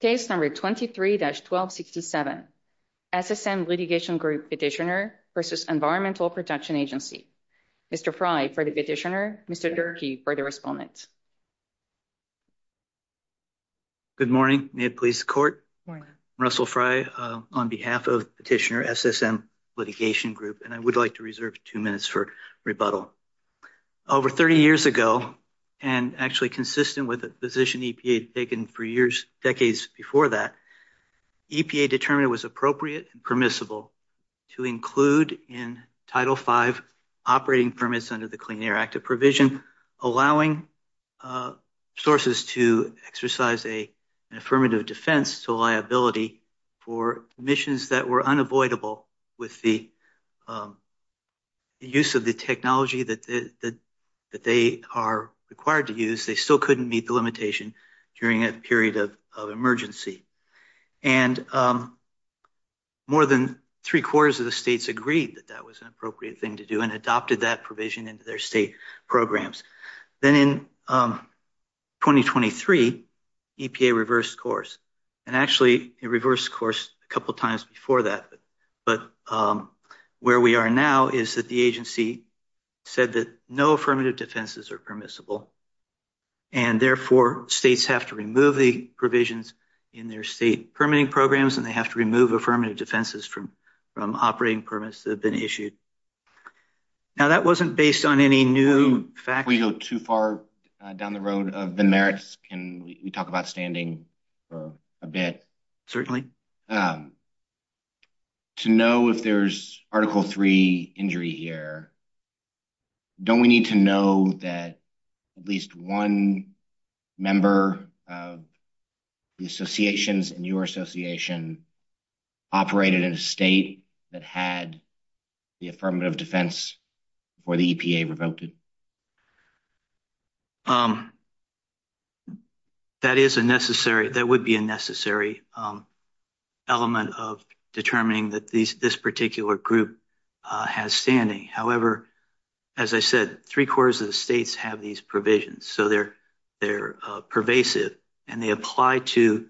Case number 23-1267, SSM Litigation Group Petitioner v. Environmental Protection Agency. Mr. Frey for the petitioner, Mr. Durkee for the respondent. Good morning. May it please the court? Good morning. Russell Frey on behalf of Petitioner SSM Litigation Group, and I would like to reserve two minutes for rebuttal. Over 30 years ago, and actually consistent with the position EPA had taken for decades before that, EPA determined it was appropriate and permissible to include in Title V operating permits under the Clean Air Act of Provision, allowing sources to exercise an affirmative defense to liability for emissions that were unavoidable with the use of the technology that they are required to use. They still couldn't meet the limitation during a period of emergency. And more than three-quarters of the states agreed that that was an appropriate thing to do and adopted that provision into their state programs. Then in 2023, EPA reversed course. And actually, it reversed course a couple times before that, but where we are now is that the agency said that no affirmative defenses are permissible, and therefore, states have to remove the provisions in their state permitting programs, and they have to remove affirmative defenses from operating permits that have been issued. Now, that wasn't based on any new facts. Before we go too far down the road of the merits, can we talk about standing for a bit? Certainly. To know if there's Article III injury here, don't we need to know that at least one member of the associations and your association operated in a state that had the affirmative defense before the EPA revoked it? That would be a necessary element of determining that this particular group has standing. However, as I said, three-quarters of the states have these provisions, so they're pervasive, and they apply to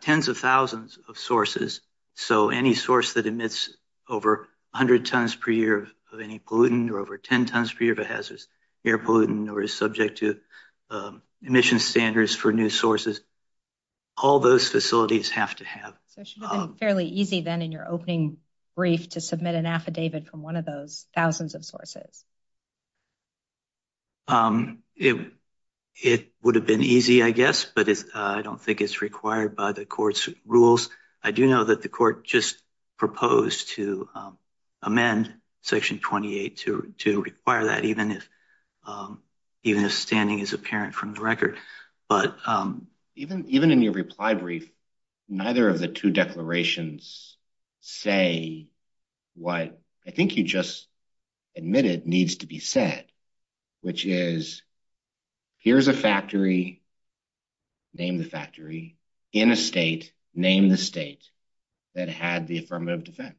tens of thousands of sources, so any source that emits over 100 tons per year of any gluten or over 10 tons per year of hazardous air pollutant or is subject to emission standards for new sources, all those facilities have to have. It should have been fairly easy then in your opening brief to submit an affidavit from one of those thousands of sources. It would have been easy, I guess, but I don't think it's required by the court's rules. I do know that the court just proposed to amend Section 28 to require that, even if standing is apparent from the record. But even in your reply brief, neither of the two declarations say what I think you just admitted needs to be said, which is, here's a factory, name the factory. In a state, name the state that had the affirmative defense.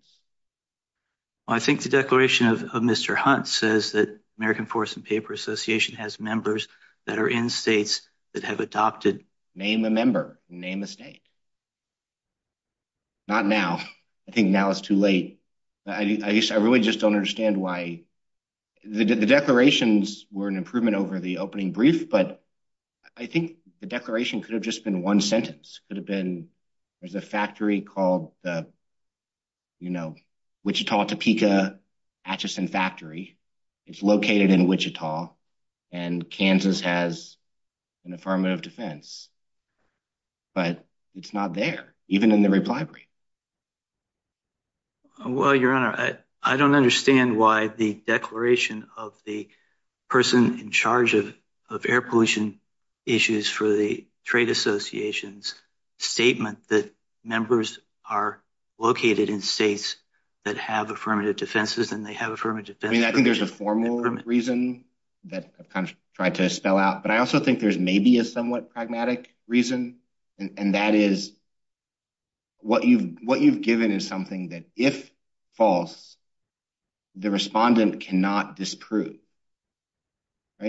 I think the declaration of Mr. Hunt says that American Forest and Paper Association has members that are in states that have adopted. Name a member. Name a state. Not now. I think now is too late. I really just don't understand why the declarations were an improvement over the opening brief, but I think the declaration could have just been one sentence. It could have been, there's a factory called the, you know, Wichita, Topeka, Atchison factory. It's located in Wichita, and Kansas has an affirmative defense. But it's not there, even in the reply brief. Well, Your Honor, I don't understand why the declaration of the person in charge of air pollution issues for the Trade Association's statement that members are located in states that have affirmative defenses, and they have affirmative defense. I mean, I think there's a formal reason that I've tried to spell out, but I also think there's maybe a somewhat pragmatic reason, and that is what you've given is something that, if false, the respondent cannot disprove.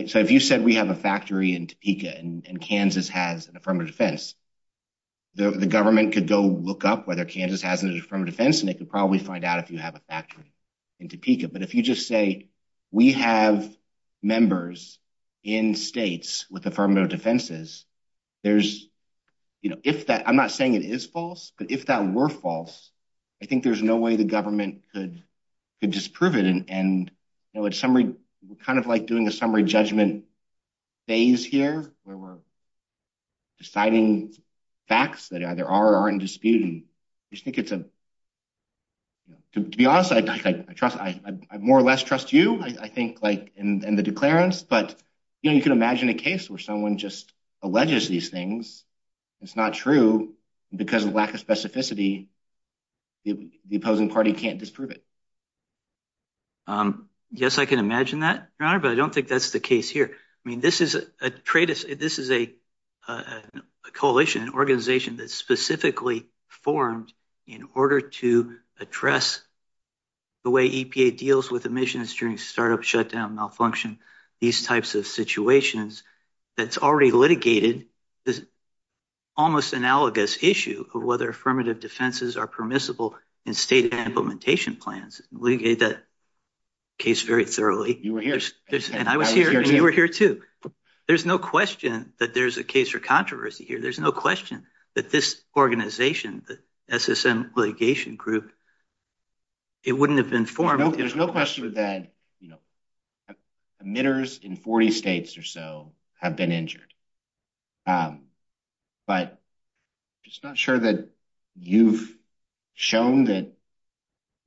So if you said we have a factory in Topeka and Kansas has an affirmative defense, the government could go look up whether Kansas has an affirmative defense, and they could probably find out if you have a factory in Topeka. But if you just say we have members in states with affirmative defenses, there's, you know, if that, I'm not saying it is false, but if that were false, I think there's no way the government could disprove it. And, you know, it's kind of like doing a summary judgment phase here, where we're deciding facts that either are or aren't disputed. I just think it's a – to be honest, I more or less trust you, I think, in the declarance, but, you know, you can imagine a case where someone just alleges these things, it's not true, and because of lack of specificity, the opposing party can't disprove it. Yes, I can imagine that, Your Honor, but I don't think that's the case here. I mean, this is a coalition, an organization that's specifically formed in order to address the way EPA deals with emissions during startup shutdown malfunction, these types of situations, that's already litigated this almost analogous issue of whether affirmative defenses are permissible in state implementation plans. I did litigate that case very thoroughly. You were here. And I was here, and you were here, too. There's no question that there's a case for controversy here. There's no question that this organization, the SSM litigation group, it wouldn't have been formal. There's no question that emitters in 40 states or so have been injured. But I'm just not sure that you've shown that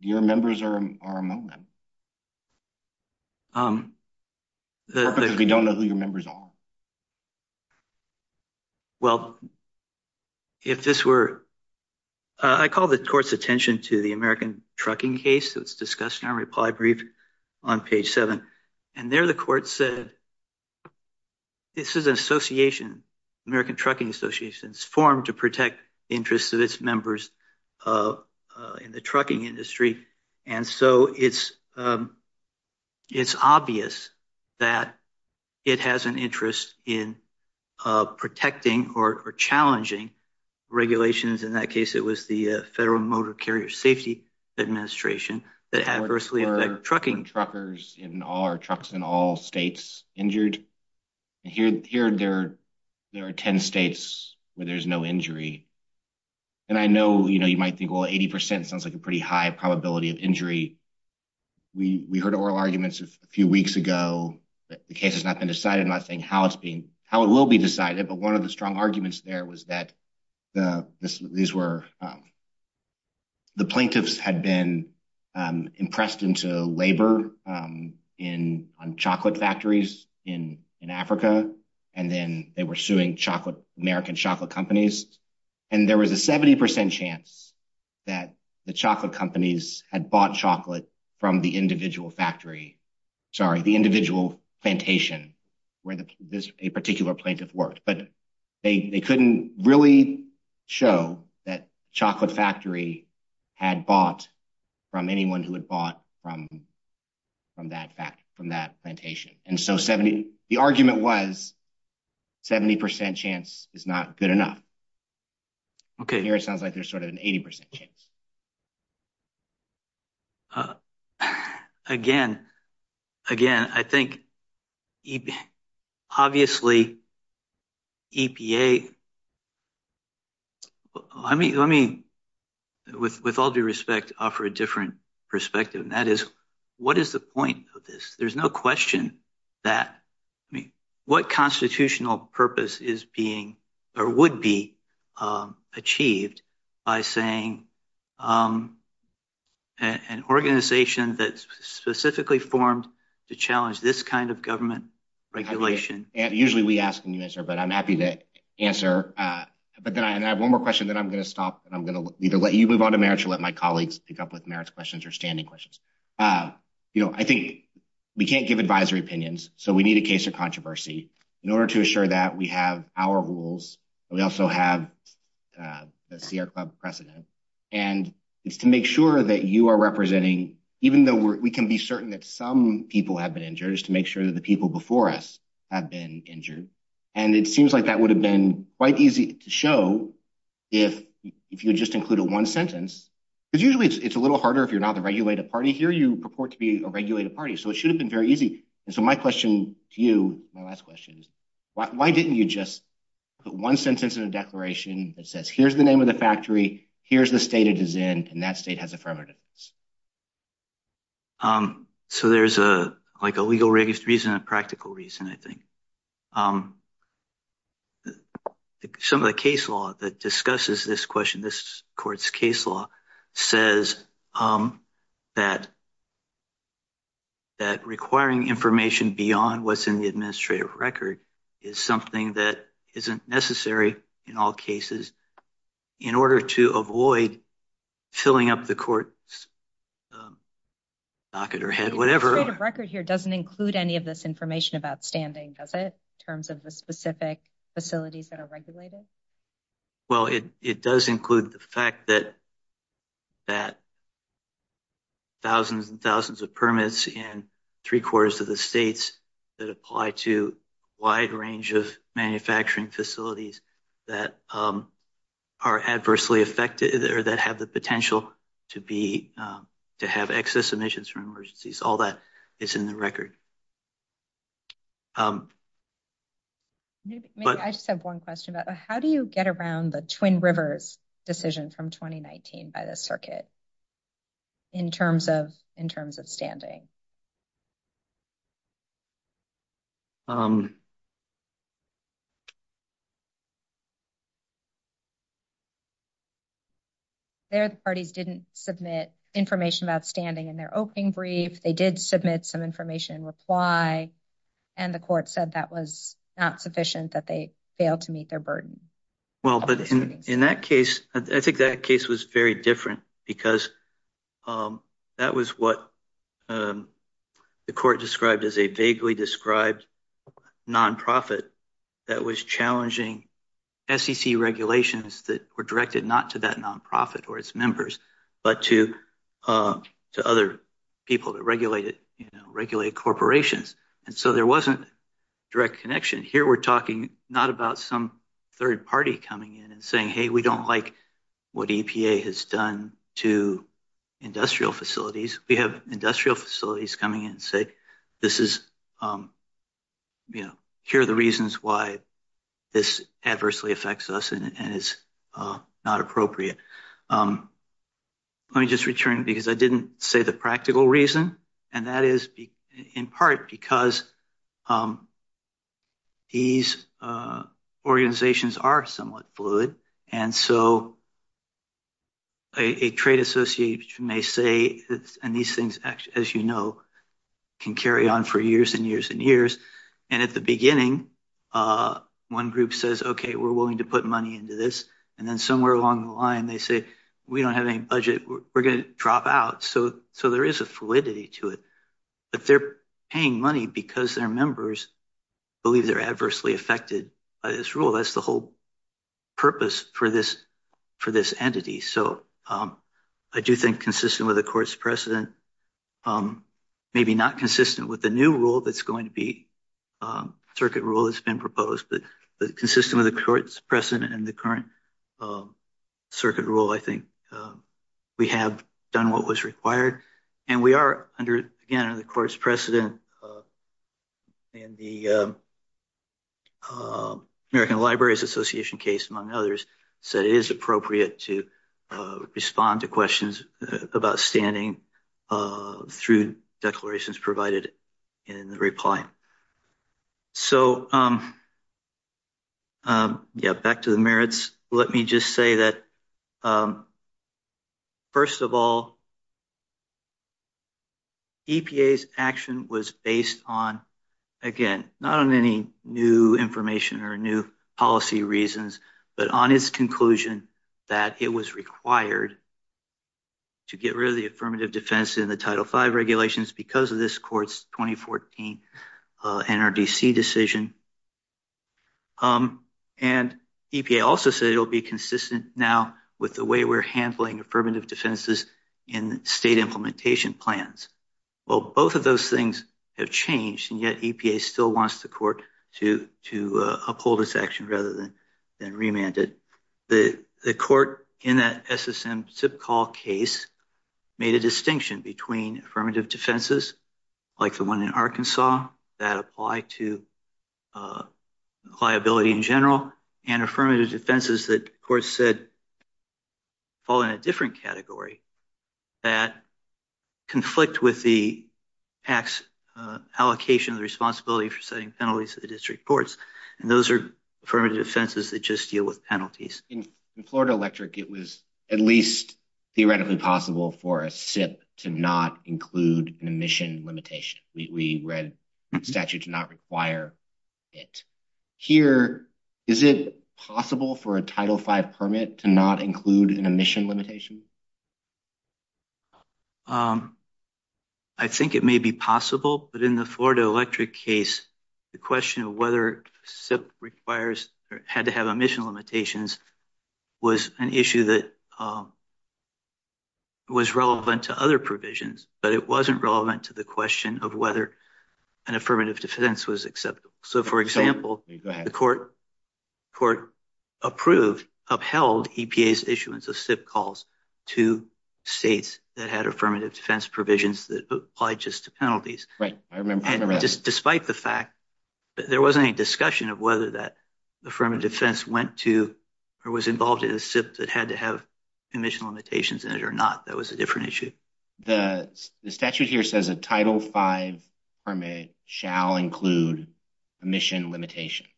your members are among them. We don't know who your members are. Well, if this were – I called the court's attention to the American Trucking case that was discussed in our reply brief on page 7, and there the court said this is an association, American Trucking Association, formed to protect the interests of its members in the trucking industry, and so it's obvious that it has an interest in protecting or challenging regulations. In that case, it was the Federal Motor Carrier Safety Administration that adversely affected trucking. Are trucks in all states injured? Here there are 10 states where there's no injury. And I know you might think, well, 80% sounds like a pretty high probability of injury. We heard oral arguments a few weeks ago that the case has not been decided. I'm not saying how it will be decided, but one of the strong arguments there was that these were – the plaintiffs had been impressed into labor on chocolate factories in Africa, and then they were suing American chocolate companies, and there was a 70% chance that the chocolate companies had bought chocolate from the individual factory – sorry, the individual plantation where a particular plaintiff worked. But they couldn't really show that Chocolate Factory had bought from anyone who had bought from that plantation. And so the argument was 70% chance is not good enough. Here it sounds like there's sort of an 80% chance. Again, I think obviously EPA – let me, with all due respect, offer a different perspective, and that is what is the point of this? There's no question that – I mean, what constitutional purpose is being or would be achieved by saying an organization that's specifically formed to challenge this kind of government regulation – Usually we ask the minister, but I'm happy to answer. But then I have one more question, then I'm going to stop, and I'm going to either let you move on to marriage or let my colleagues pick up with marriage questions or standing questions. I think we can't give advisory opinions, so we need a case of controversy. In order to assure that, we have our rules. We also have the Sierra Club precedent, and it's to make sure that you are representing – even though we can be certain that some people have been injured, it's to make sure that the people before us have been injured. And it seems like that would have been quite easy to show if you just included one sentence. But usually it's a little harder if you're not the regulated party. Here you purport to be a regulated party, so it should have been very easy. And so my question to you, my last question, is why didn't you just put one sentence in a declaration that says, here's the name of the factory, here's the state it is in, and that state has affirmative? So there's a legal reason and a practical reason, I think. Some of the case law that discusses this question, this court's case law, says that requiring information beyond what's in the administrative record is something that isn't necessary in all cases in order to avoid filling up the court's docket or head, whatever. The administrative record here doesn't include any of this information about standing, does it, in terms of the specific facilities that are regulated? Well, it does include the fact that thousands and thousands of permits in three-quarters of the states that apply to a wide range of manufacturing facilities that are adversely affected or that have the potential to have excess emissions from emergencies, all that is in the record. I just have one question about how do you get around the Twin Rivers decision from 2019 by the circuit in terms of standing? Their parties didn't submit information about standing in their opening brief, they did submit some information in reply, and the court said that was not sufficient, that they failed to meet their burden. Well, but in that case, I think that case was very different because that was what the court described as a vaguely described non-profit that was challenging SEC regulations that were directed not to that non-profit or its members, but to other people that regulated corporations. And so there wasn't direct connection. Here we're talking not about some third party coming in and saying, hey, we don't like what EPA has done to industrial facilities. We have industrial facilities coming in and say, here are the reasons why this adversely affects us and is not appropriate. Let me just return, because I didn't say the practical reason, and that is in part because these organizations are somewhat fluid. And so a trade association may say, and these things, as you know, can carry on for years and years and years. And at the beginning, one group says, OK, we're willing to put money into this. And then somewhere along the line, they say, we don't have any budget. We're going to drop out. So there is a fluidity to it. But they're paying money because their members believe they're adversely affected by this rule. That's the whole purpose for this entity. So I do think consistent with the court's precedent, maybe not consistent with the new rule that's going to be, circuit rule that's been proposed, but consistent with the court's precedent and the current circuit rule, I think we have done what was required. And we are, again, under the court's precedent. And the American Libraries Association case, among others, said it is appropriate to respond to questions about standing through declarations provided in the reply. So, yeah, back to the merits. Let me just say that, first of all, EPA's action was based on, again, not on any new information or new policy reasons, but on its conclusion that it was required to get rid of the affirmative defense in the Title V regulations because of this court's 2014 NRDC decision. And EPA also said it will be consistent now with the way we're handling affirmative defenses in state implementation plans. Well, both of those things have changed, and yet EPA still wants the court to uphold its action rather than remand it. The court in that SSM zip call case made a distinction between affirmative defenses, like the one in Arkansas, that apply to liability in general, and affirmative defenses that the court said fall in a different category, that conflict with the PAC's allocation of the responsibility for setting penalties to the district courts. And those are affirmative defenses that just deal with penalties. In Florida Electric, it was at least theoretically possible for a SIP to not include an emission limitation. We read the statute did not require it. Here, is it possible for a Title V permit to not include an emission limitation? I think it may be possible, but in the Florida Electric case, the question of whether SIP had to have emission limitations was an issue that was relevant to other provisions, but it wasn't relevant to the question of whether an affirmative defense was acceptable. So, for example, the court upheld EPA's issuance of SIP calls to states that had affirmative defense provisions that applied just to penalties. Despite the fact that there wasn't any discussion of whether that affirmative defense went to or was involved in a SIP that had to have emission limitations in it or not, that was a different issue. The statute here says a Title V permit shall include emission limitations.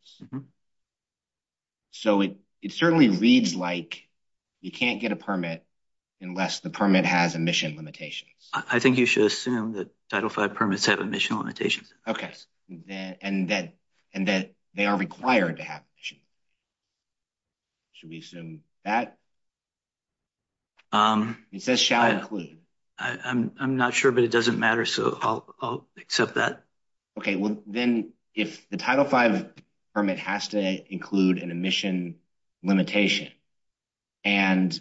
So, it certainly reads like you can't get a permit unless the permit has emission limitations. I think you should assume that Title V permits have emission limitations. Okay, and that they are required to have emissions. Should we assume that? It says shall include. I'm not sure, but it doesn't matter, so I'll accept that. Okay, well, then if the Title V permit has to include an emission limitation, and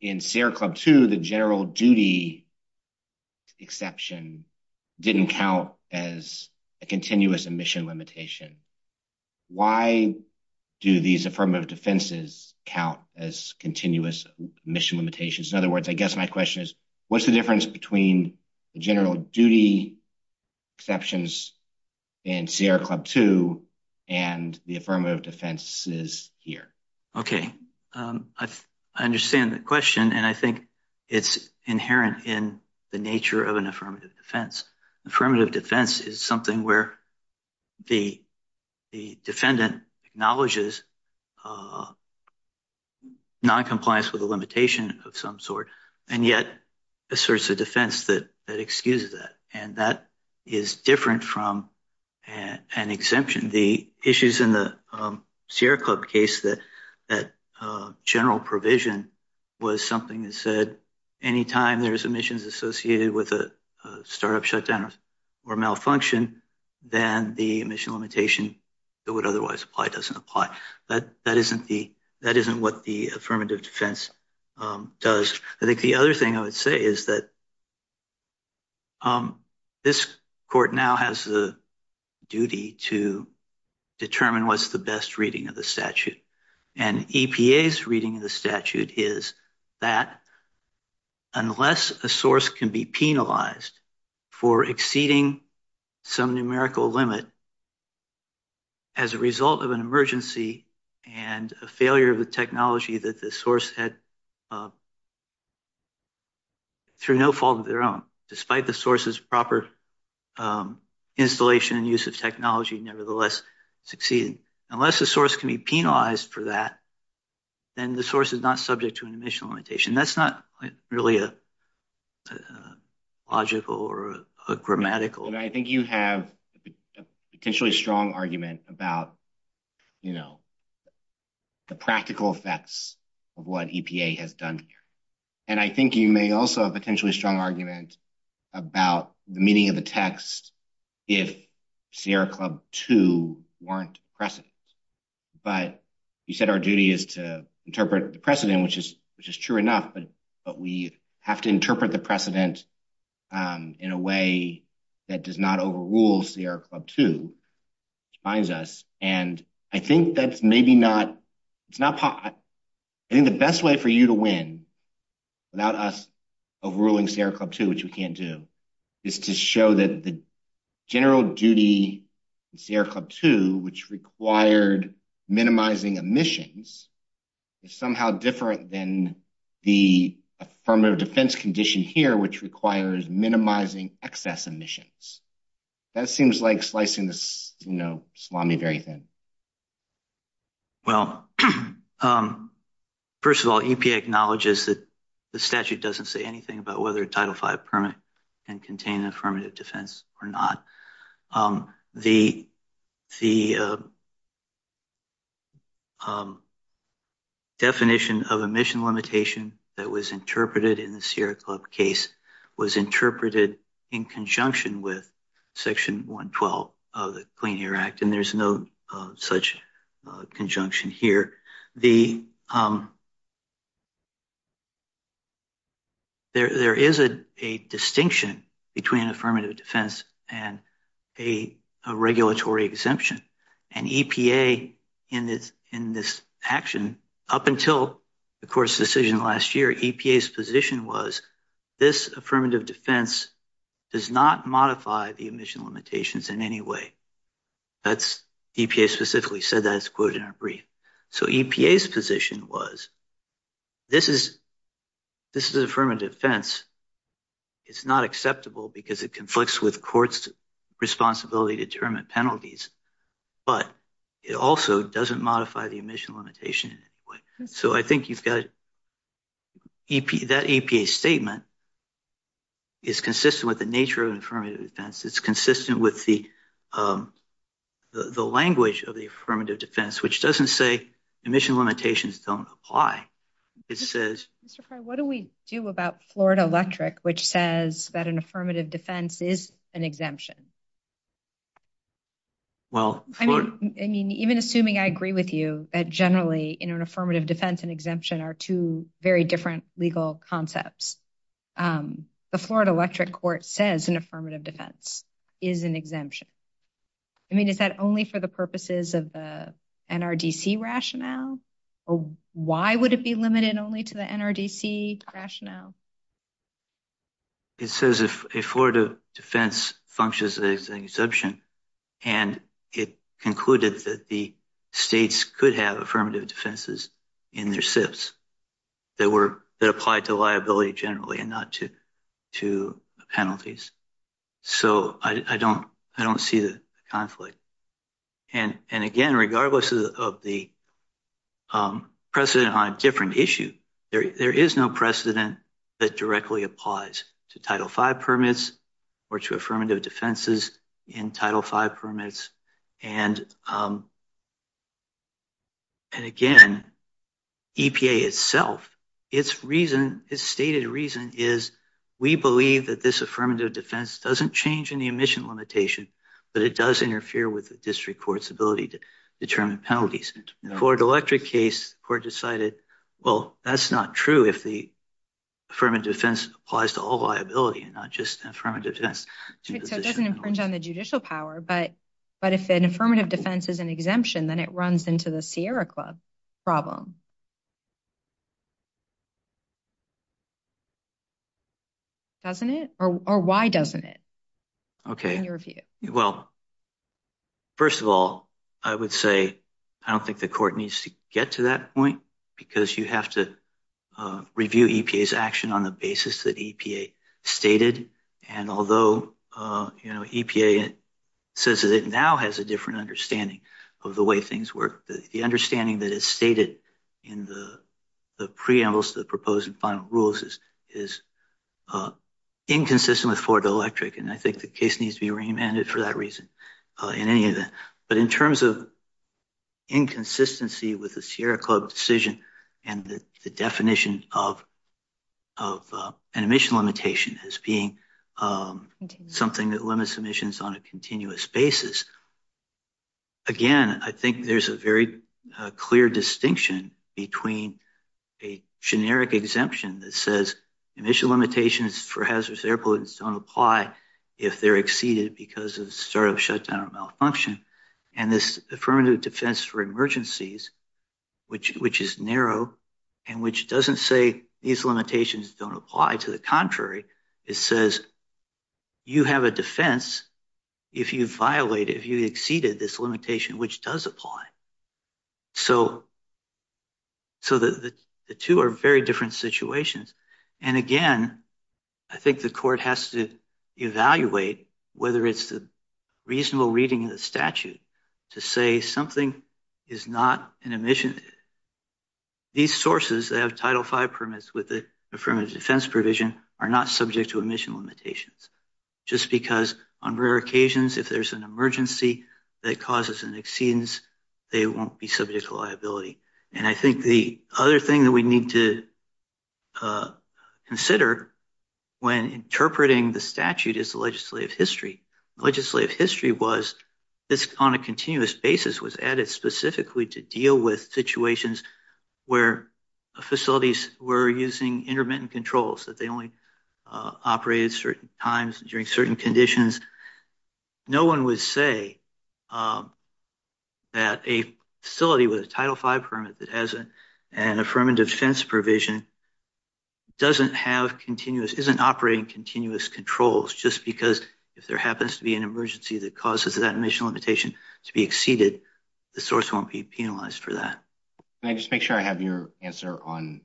in Sierra Club 2, the general duty exception didn't count as a continuous emission limitation, why do these affirmative defenses count as continuous emission limitations? In other words, I guess my question is what's the difference between the general duty exceptions in Sierra Club 2 and the affirmative defenses here? Okay, I understand the question, and I think it's inherent in the nature of an affirmative defense. Affirmative defense is something where the defendant acknowledges noncompliance with a limitation of some sort, and yet asserts a defense that excuses that, and that is different from an exemption. The issues in the Sierra Club case, that general provision was something that said, anytime there's emissions associated with a startup shutdown or malfunction, then the emission limitation that would otherwise apply doesn't apply. That isn't what the affirmative defense does. I think the other thing I would say is that this court now has the duty to determine what's the best reading of the statute, and EPA's reading of the statute is that unless a source can be penalized for exceeding some numerical limit as a result of an emergency and a failure of the technology that the source had through no fault of their own, despite the source's proper installation and use of technology nevertheless succeeding, unless the source can be penalized for that, then the source is not subject to an emission limitation. That's not really a logical or a grammatical. I think you have a potentially strong argument about the practical effects of what EPA has done here, and I think you may also have a potentially strong argument about the meaning of the text if Sierra Club 2 weren't precedent, but you said our duty is to interpret the precedent, which is true enough, but we have to interpret the precedent in a way that does not overrule Sierra Club 2, which binds us. I think the best way for you to win without us overruling Sierra Club 2, which we can't do, is to show that the general duty of Sierra Club 2, which required minimizing emissions, is somehow different than the affirmative defense condition here, which requires minimizing excess emissions. That seems like slicing salami or anything. Well, first of all, EPA acknowledges that the statute doesn't say anything about whether a Title V permit can contain affirmative defense or not. The definition of emission limitation that was interpreted in the Sierra Club case was interpreted in conjunction with Section 112 of the Clean Air Act, and there's no such conjunction here. There is a distinction between affirmative defense and a regulatory exemption, and EPA, in this action, up until the court's decision last year, EPA's position was this affirmative defense does not modify the emission limitations in any way. EPA specifically said that. It's quoted in our brief. So EPA's position was this is affirmative defense. It's not acceptable because it conflicts with court's responsibility to determine penalties, but it also doesn't modify the emission limitation in any way. So I think that EPA statement is consistent with the nature of affirmative defense. It's consistent with the language of the affirmative defense, which doesn't say emission limitations don't apply. What do we do about Florida Electric, which says that an affirmative defense is an exemption? Well, even assuming I agree with you that generally in an affirmative defense, an exemption are two very different legal concepts. The Florida Electric court says an affirmative defense is an exemption. I mean, is that only for the purposes of the NRDC rationale? Why would it be limited only to the NRDC rationale? It says a Florida defense functions as an exemption, and it concluded that the states could have affirmative defenses in their SIFs that apply to liability generally and not to penalties. So I don't see the conflict. And again, regardless of the precedent on a different issue, there is no precedent that directly applies to Title V permits or to affirmative defenses in Title V permits. And again, EPA itself, its stated reason is we believe that this affirmative defense doesn't change in the emission limitation, but it does interfere with the district court's ability to determine penalties. In the Florida Electric case, the court decided, well, that's not true if the affirmative defense applies to all liability and not just the affirmative defense. So it doesn't infringe on the judicial power, but if an affirmative defense is an exemption, then it runs into the Sierra Club problem. Doesn't it? Or why doesn't it? Well, first of all, I would say I don't think the court needs to get to that point, because you have to review EPA's action on the basis that EPA stated. And although EPA says that it now has a different understanding of the way things work, the understanding that is stated in the preamble to the proposed and final rules is inconsistent with Florida Electric. And I think the case needs to be remanded for that reason in any event. But in terms of inconsistency with the Sierra Club decision and the definition of an emission limitation as being something that limits emissions on a continuous basis, again, I think there's a very clear distinction between a generic exemption that says emission limitations for hazardous air pollutants don't apply if they're exceeded because of startup shutdown or malfunction, and this affirmative defense for emergencies, which is narrow and which doesn't say these limitations don't apply. To the contrary, it says you have a defense if you violate, if you exceeded this limitation, which does apply. So the two are very different situations. And again, I think the court has to evaluate whether it's a reasonable reading of the statute to say something is not an emission. These sources that have Title V permits with the affirmative defense provision are not subject to emission limitations, just because on rare occasions if there's an emergency that causes an exceedance, they won't be subject to liability. And I think the other thing that we need to consider when interpreting the statute is the legislative history. Legislative history was on a continuous basis was added specifically to deal with situations where facilities were using intermittent controls, that they only operated certain times during certain conditions. No one would say that a facility with a Title V permit that has an affirmative defense provision doesn't have continuous, isn't operating continuous controls just because if there happens to be an emergency that causes that emission limitation to be exceeded, the source won't be penalized for that. Can I just make sure I have your answer on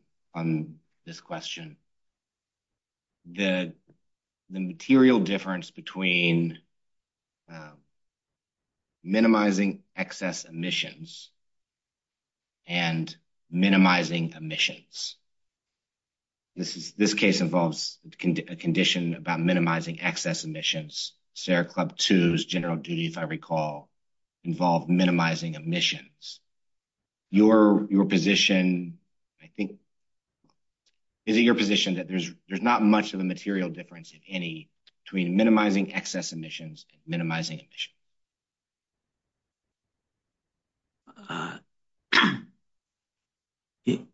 this question? The material difference between minimizing excess emissions and minimizing emissions. This case involves a condition about minimizing excess emissions. SARE Club 2's general duty, if I recall, involved minimizing emissions. Your position, I think, is it your position that there's not much of a material difference in any between minimizing excess emissions and minimizing emissions?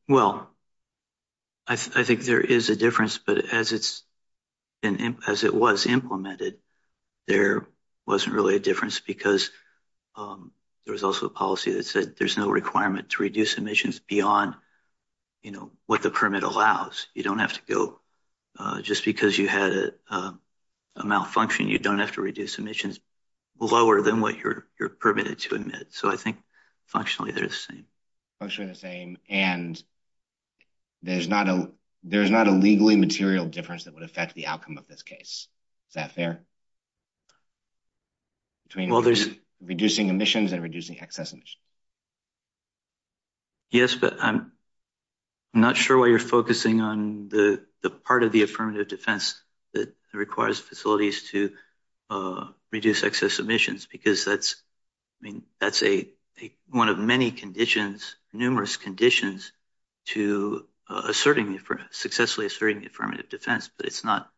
Well, I think there is a difference, but as it was implemented, there wasn't really a difference because there was also a policy that said there's no requirement to reduce emissions beyond what the permit allows. You don't have to go – just because you had a malfunction, you don't have to reduce emissions lower than what you're permitted to admit, so I think functionally they're the same. Functionally the same, and there's not a legally material difference that would affect the outcome of this case. Is that fair? Between reducing emissions and reducing excess emissions. Yes, but I'm not sure why you're focusing on the part of the affirmative defense that requires facilities to reduce excess emissions because that's one of many conditions, numerous conditions, to successfully asserting the affirmative defense, but it's not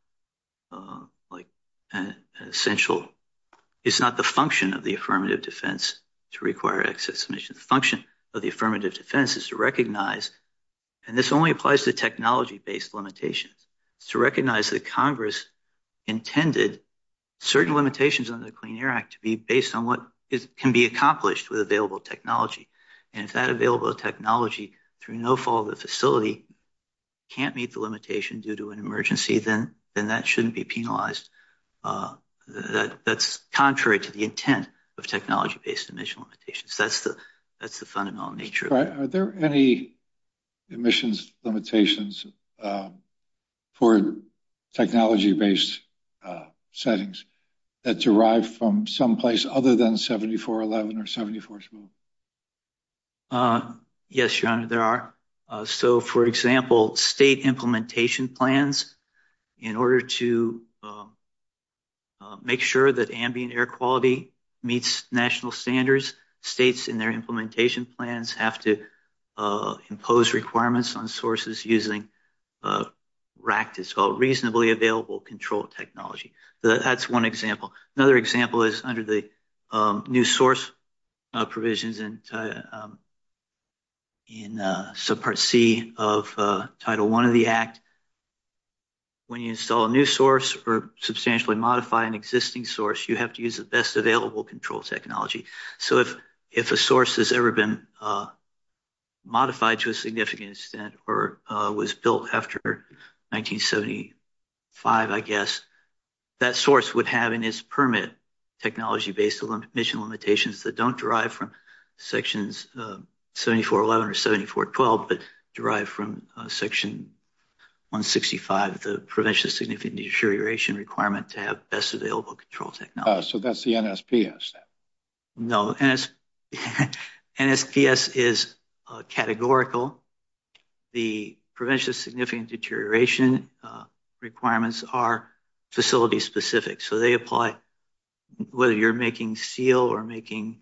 an essential – it's not the function of the affirmative defense to require excess emissions. The function of the affirmative defense is to recognize, and this only applies to technology-based limitations, to recognize that Congress intended certain limitations under the Clean Air Act to be based on what can be accomplished with available technology, and if that available technology, through no fault of the facility, can't meet the limitation due to an emergency, then that shouldn't be penalized. That's contrary to the intent of technology-based emission limitations. That's the fundamental nature of it. Are there any emissions limitations for technology-based settings that derive from someplace other than 7411 or 7421? Yes, John, there are. So, for example, state implementation plans, in order to make sure that ambient air quality meets national standards, states in their implementation plans have to impose requirements on sources using RACT, it's called Reasonably Available Control Technology. That's one example. Another example is under the new source provisions in Subpart C of Title I of the Act. When you install a new source or substantially modify an existing source, you have to use the best available control technology. So if a source has ever been modified to a significant extent or was built after 1975, I guess, that source would have in its permit technology-based emission limitations that don't derive from Sections 7411 or 7412, but derive from Section 165, the prevention of significant deterioration requirement to have best available control technology. So that's the NSPS. No, NSPS is categorical. The prevention of significant deterioration requirements are facility-specific. So they apply whether you're making steel or making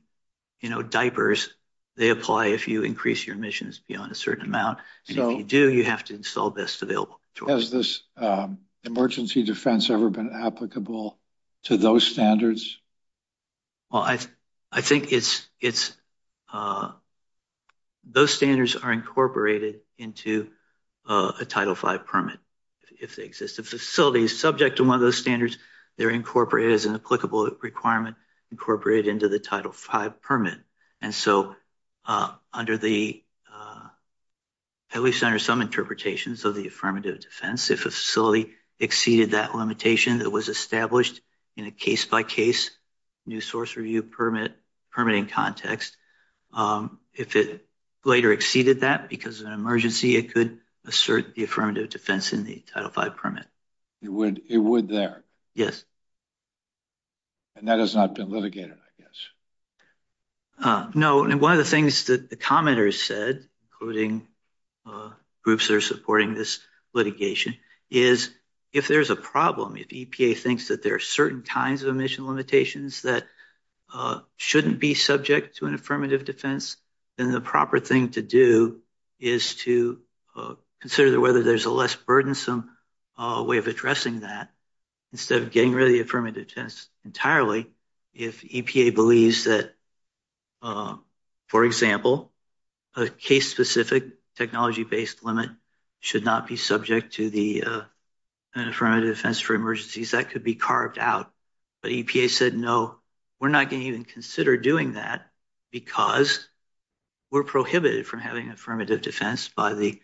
diapers. They apply if you increase your emissions beyond a certain amount. And if you do, you have to install best available control. Has this emergency defense ever been applicable to those standards? Well, I think those standards are incorporated into a Title V permit. If a facility is subject to one of those standards, they're incorporated as an applicable requirement, incorporated into the Title V permit. And so under the, at least under some interpretations of the affirmative defense, if a facility exceeded that limitation that was established in a case-by-case new source review permitting context, if it later exceeded that because of an emergency, it could assert the affirmative defense in the Title V permit. It would there? Yes. And that has not been litigated, I guess. No, and one of the things that the commenters said, including groups that are supporting this litigation, is if there's a problem, if EPA thinks that there are certain kinds of emission limitations that shouldn't be subject to an affirmative defense, then the proper thing to do is to consider whether there's a less burdensome way of addressing that instead of getting rid of the affirmative defense entirely. If EPA believes that, for example, a case-specific technology-based limit should not be subject to an affirmative defense for emergencies, that could be carved out. But EPA said, no, we're not going to even consider doing that because we're prohibited from having affirmative defense by the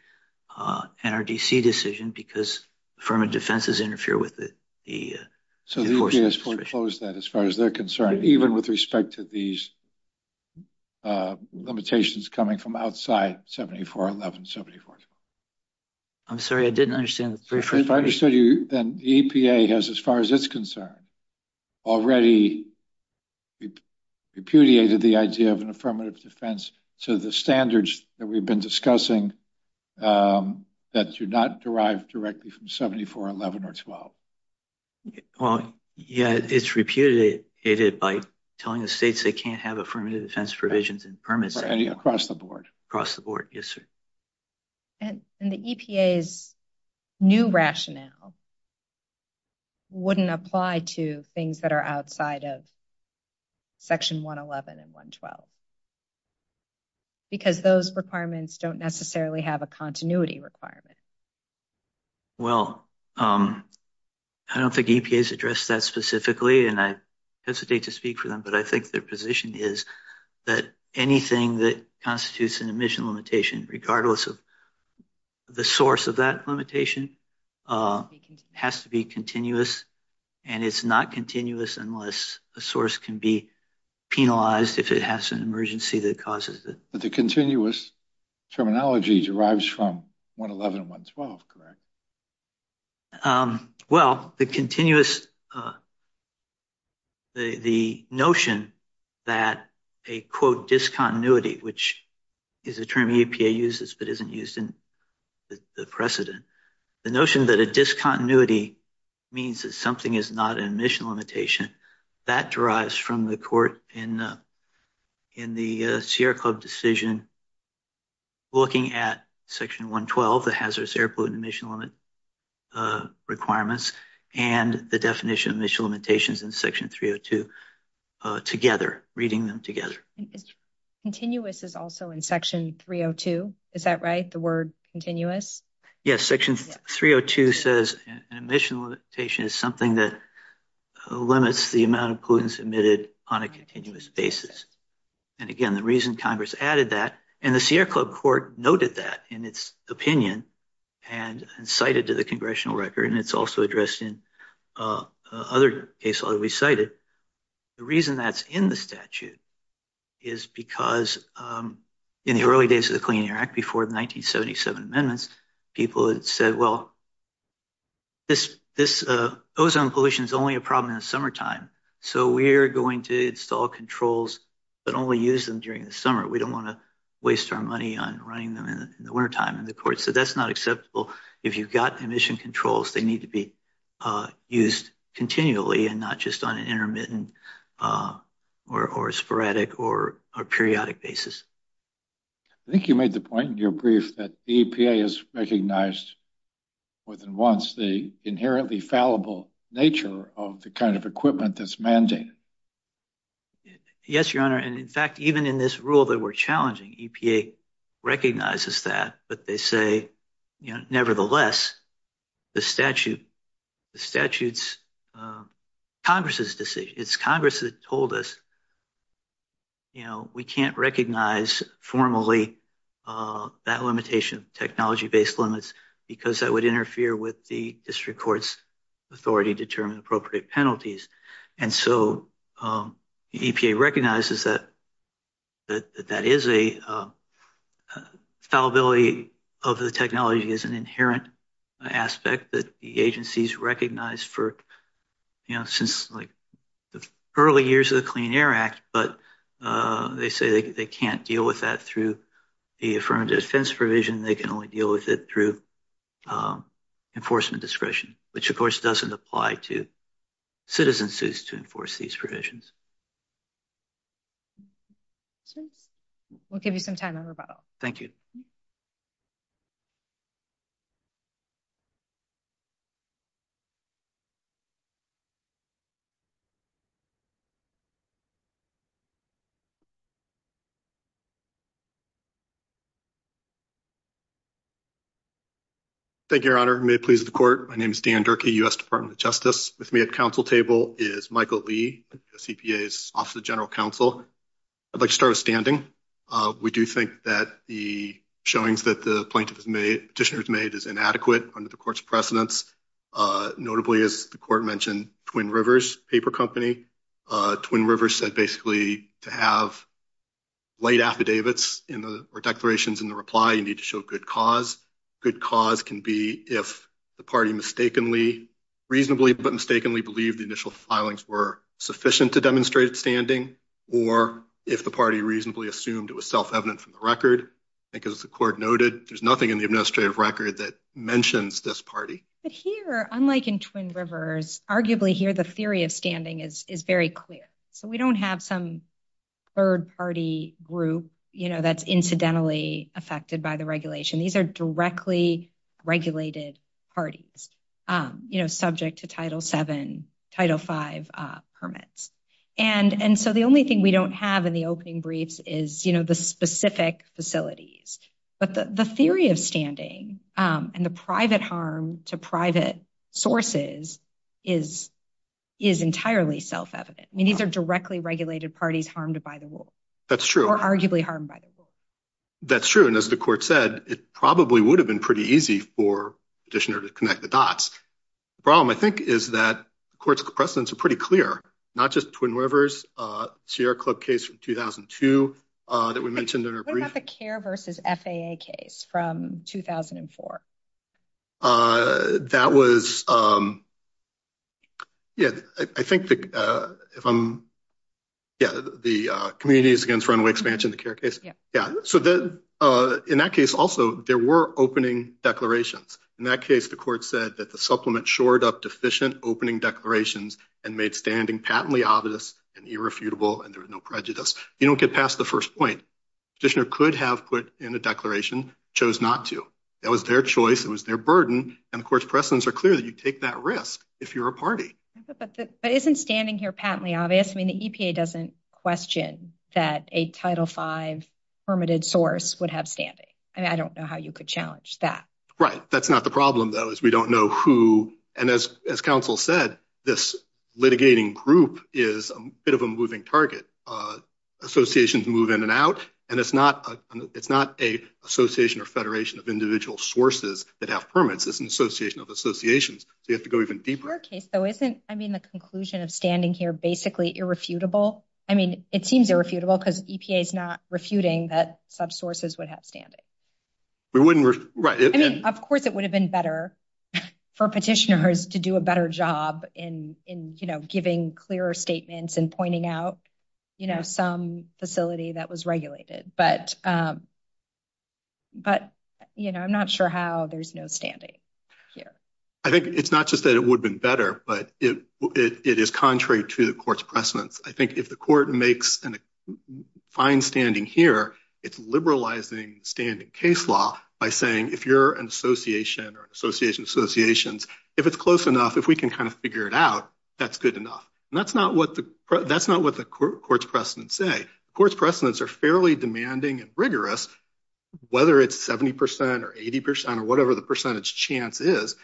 NRDC decision because affirmative defenses interfere with the enforcement. So EPA has foreclosed that as far as they're concerned, even with respect to these limitations coming from outside 7411, 7411. I'm sorry, I didn't understand. If I understood you, then EPA has, as far as it's concerned, already repudiated the idea of an affirmative defense to the standards that we've been discussing that do not derive directly from 7411 or 12. Yeah, it's repudiated by telling the states they can't have affirmative defense provisions and permits. Across the board. Across the board, yes, sir. And the EPA's new rationale wouldn't apply to things that are outside of Section 111 and 112 because those requirements don't necessarily have a continuity requirement. Well, I don't think EPA has addressed that specifically, and I hesitate to speak for them, but I think their position is that anything that constitutes an emission limitation, regardless of the source of that limitation, has to be continuous, and it's not continuous unless a source can be penalized if it has an emergency that causes it. But the continuous terminology derives from 111 and 112, correct? Well, the notion that a, quote, discontinuity, which is a term EPA uses but isn't used in the precedent, the notion that a discontinuity means that something is not an emission limitation, that derives from the court in the Sierra Club decision looking at Section 112, the hazardous air pollutant emission limit requirements, and the definition of emission limitations in Section 302 together, reading them together. Continuous is also in Section 302, is that right, the word continuous? Yes, Section 302 says an emission limitation is something that limits the amount of pollutants emitted on a continuous basis. And again, the reason Congress added that, and the Sierra Club court noted that in its opinion and cited to the congressional record, and it's also addressed in other cases I've recited, the reason that's in the statute is because in the early days of the Clean Air Act, before the 1977 amendments, people had said, well, this ozone pollution is only a problem in the summertime, so we're going to install controls but only use them during the summer. We don't want to waste our money on running them in the wintertime in the courts. So that's not acceptable. If you've got emission controls, they need to be used continually and not just on an intermittent or sporadic or periodic basis. I think you made the point in your brief that the EPA has recognized more than once the inherently fallible nature of the kind of equipment that's mandated. Yes, Your Honor, and in fact, even in this rule that we're challenging, EPA recognizes that. But they say, you know, nevertheless, the statute, the statute's Congress's decision, it's Congress that told us, you know, we can't recognize formally that limitation, technology based limits, because that would interfere with the district court's authority to determine appropriate penalties. And so EPA recognizes that that is a fallibility of the technology is an inherent aspect that the agencies recognize for, you know, since like the early years of the Clean Air Act. But they say they can't deal with that through the affirmative defense provision. They can only deal with it through enforcement discretion, which, of course, doesn't apply to citizen suits to enforce these provisions. We'll give you some time on the phone. Thank you. Thank you, Your Honor. May it please the court. My name is Dan Durkee, U.S. Department of Justice. With me at the council table is Michael Lee, EPA's Office of the General Counsel. I'd like to start with standing. We do think that the showings that the plaintiff has made, petitioner has made, is inadequate under the court's precedents. Notably, as the court mentioned, Twin Rivers Paper Company. Twin Rivers said basically to have late affidavits or declarations in the reply, you need to show good cause. Good cause can be if the party mistakenly, reasonably but mistakenly, believed the initial filings were sufficient to demonstrate standing, or if the party reasonably assumed it was self-evident from the record. Because the court noted there's nothing in the administrative record that mentions this party. But here, unlike in Twin Rivers, arguably here, the theory of standing is very clear. So we don't have some third party group, you know, that's incidentally affected by the regulation. These are directly regulated parties, you know, subject to Title VII, Title V permits. And so the only thing we don't have in the opening briefs is, you know, the specific facilities. But the theory of standing and the private harm to private sources is entirely self-evident. These are directly regulated parties harmed by the rule. That's true. Or arguably harmed by the rule. That's true. And as the court said, it probably would have been pretty easy for petitioner to connect the dots. The problem, I think, is that the court's precedents are pretty clear, not just Twin Rivers, Sierra Club case from 2002 that we mentioned in our brief. What about the CARE versus FAA case from 2004? That was, yeah, I think, yeah, the Communities Against Runaway Expansion, the CARE case. Yeah. Yeah. So in that case also, there were opening declarations. In that case, the court said that the supplement shored up deficient opening declarations and made standing patently obvious and irrefutable and there was no prejudice. You don't get past the first point. Petitioner could have put in a declaration, chose not to. That was their choice. It was their burden. And, of course, precedents are clear that you take that risk if you're a party. But isn't standing here patently obvious? I mean, the EPA doesn't question that a Title V permitted source would have standing. I don't know how you could challenge that. Right. That's not the problem, though, is we don't know who. And as counsel said, this litigating group is a bit of a moving target. Associations move in and out. And it's not a association or federation of individual sources that have permits. It's an association of associations. So you have to go even deeper. So isn't, I mean, the conclusion of standing here basically irrefutable? I mean, it seems irrefutable because EPA is not refuting that subsources would have standing. We wouldn't. Right. I mean, of course, it would have been better for petitioners to do a better job in, you know, giving clearer statements and pointing out, you know, some facility that was regulated. But, you know, I'm not sure how there's no standing here. I think it's not just that it would have been better, but it is contrary to the court's precedence. I think if the court makes a fine standing here, it's liberalizing standing case law by saying, if you're an association or an association of associations, if it's close enough, if we can kind of figure it out, that's good enough. And that's not what the court's precedents say. Court's precedents are fairly demanding and rigorous, whether it's 70 percent or 80 percent or whatever the percentage chance is.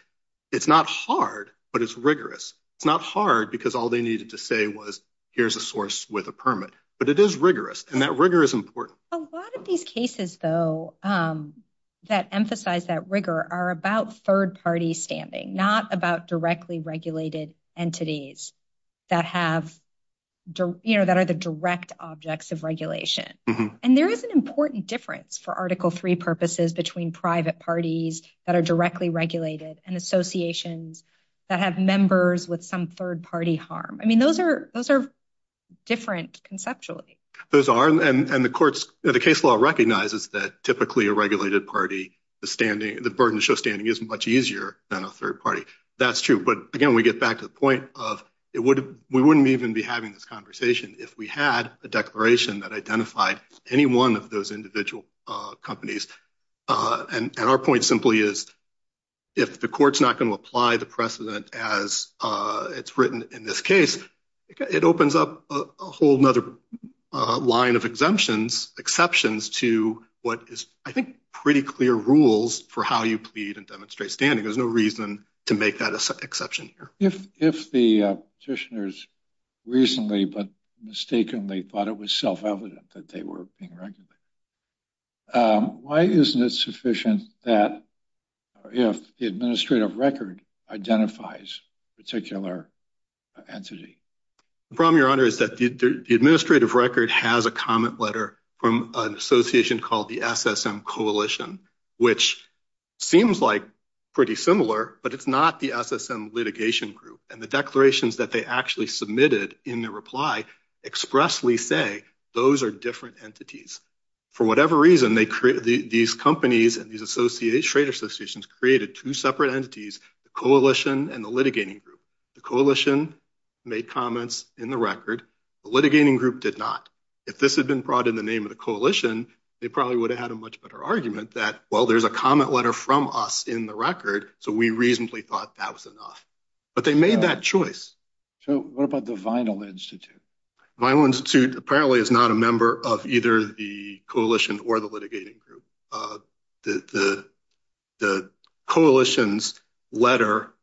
It's not hard, but it's rigorous. It's not hard because all they needed to say was, here's a source with a permit. But it is rigorous, and that rigor is important. A lot of these cases, though, that emphasize that rigor are about third-party standing, not about directly regulated entities that have, you know, that are the direct objects of regulation. And there is an important difference for Article III purposes between private parties that are directly regulated and associations that have members with some third-party harm. I mean, those are different conceptually. Those are, and the court's case law recognizes that typically a regulated party, the burden of standing isn't much easier than a third party. That's true. But, again, we get back to the point of we wouldn't even be having this conversation if we had a declaration that identified any one of those individual companies. And our point simply is, if the court's not going to apply the precedent as it's written in this case, it opens up a whole other line of exemptions, exceptions to what is, I think, pretty clear rules for how you plead and demonstrate standing. There's no reason to make that exception here. If the petitioners reasonably but mistakenly thought it was self-evident that they were being regulated, why isn't it sufficient that the administrative record identifies a particular entity? The problem, Your Honor, is that the administrative record has a comment letter from an association called the SSM Coalition, which seems like pretty similar, but it's not the SSM litigation group. And the declarations that they actually submitted in their reply expressly say those are different entities. For whatever reason, these companies and these trade associations created two separate entities, the coalition and the litigating group. The coalition made comments in the record. The litigating group did not. If this had been brought in the name of the coalition, they probably would have had a much better argument that, well, there's a comment letter from us in the record, so we reasonably thought that was enough. But they made that choice. So what about the Vinyl Institute? The Vinyl Institute apparently is not a member of either the coalition or the litigating group. The coalition's letter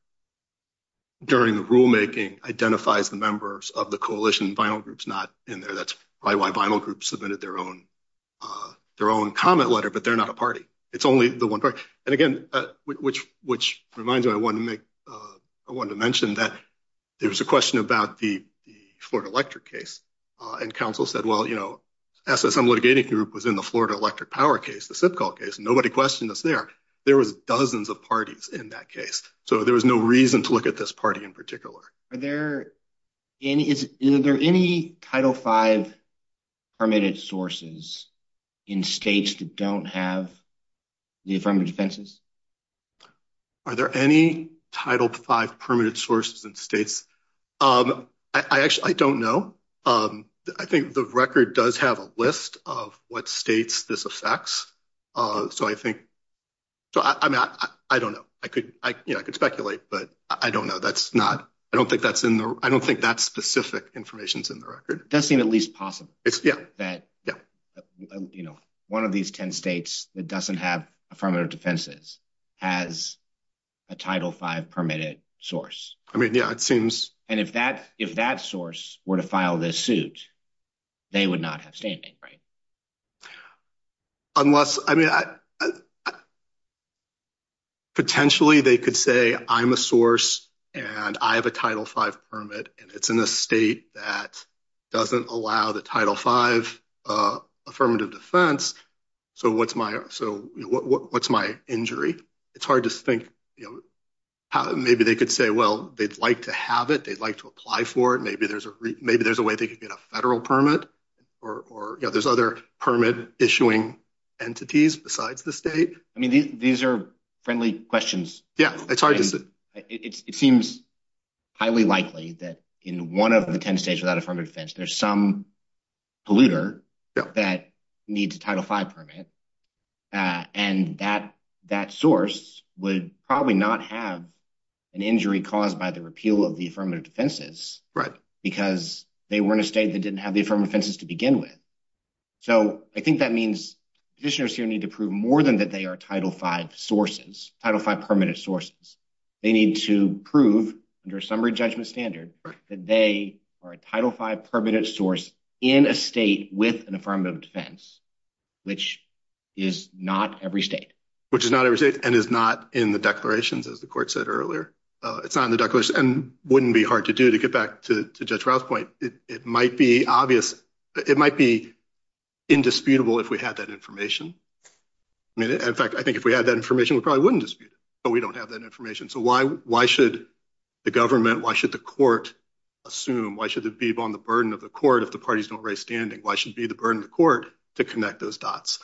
during the rulemaking identifies the members of the coalition. The Vinyl group's not in there. That's probably why the Vinyl group submitted their own comment letter, but they're not a party. It's only the one party. And, again, which reminds me, I wanted to mention that there was a question about the Florida Electric case, and counsel said, well, you know, that's what some litigating group was in the Florida Electric Power case, the SIPCOL case. Nobody questioned us there. There was dozens of parties in that case, so there was no reason to look at this party in particular. Is there any Title V permitted sources in states that don't have the affirmative defenses? Are there any Title V permitted sources in states? I actually don't know. I think the record does have a list of what states this affects. So I don't know. I could speculate, but I don't know. I don't think that specific information is in the record. It does seem at least possible that, you know, one of these 10 states that doesn't have affirmative defenses has a Title V permitted source. I mean, yeah, it seems. And if that source were to file this suit, they would not have said anything, right? Unless, I mean, potentially they could say, I'm a source, and I have a Title V permit, and it's in a state that doesn't allow the Title V affirmative defense, so what's my injury? It's hard to think. Maybe they could say, well, they'd like to have it. They'd like to apply for it. Maybe there's a way they could get a federal permit. There's other permit-issuing entities besides the state. I mean, these are friendly questions. Yeah, it's hard to say. It seems highly likely that in one of the 10 states without affirmative defense, there's some polluter that needs a Title V permit, and that source would probably not have an injury caused by the repeal of the affirmative defenses because they were in a state that didn't have the affirmative defenses to begin with. So I think that means judiciaries here need to prove more than that they are Title V sources, Title V permitted sources. They need to prove, under a summary judgment standard, that they are a Title V permitted source in a state with an affirmative defense, which is not every state. Which is not every state and is not in the declarations, as the court said earlier. It's not in the declarations and wouldn't be hard to do, to get back to Judge Rouse's point. It might be obvious. It might be indisputable if we had that information. In fact, I think if we had that information, we probably wouldn't dispute it, but we don't have that information. So why should the government, why should the court assume, why should it be upon the burden of the court if the parties don't raise standing? Why should it be the burden of the court to connect those dots?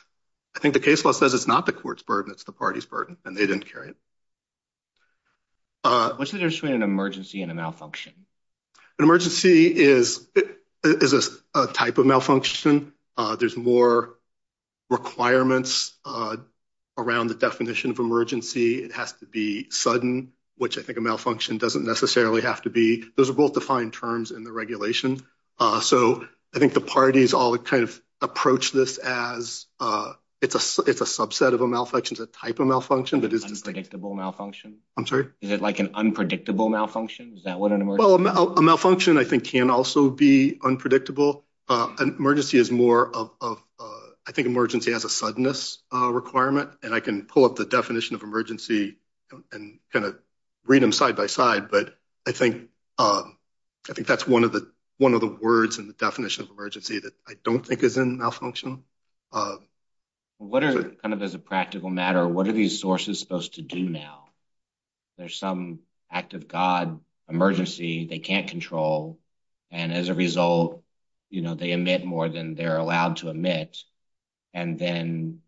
I think the case law says it's not the court's burden, it's the party's burden, and they didn't carry it. What's the difference between an emergency and a malfunction? An emergency is a type of malfunction. There's more requirements around the definition of emergency. It has to be sudden, which I think a malfunction doesn't necessarily have to be. Those are both defined terms in the regulation. So I think the parties all kind of approach this as it's a subset of a malfunction, a type of malfunction. Unpredictable malfunction? I'm sorry? Is it like an unpredictable malfunction? Well, a malfunction I think can also be unpredictable. An emergency is more of, I think emergency has a suddenness requirement, and I can pull up the definition of emergency and kind of read them side by side, but I think that's one of the words in the definition of emergency that I don't think is in a malfunction. Kind of as a practical matter, what are these sources supposed to do now? There's some act of God emergency they can't control, and as a result they emit more than they're allowed to emit, and then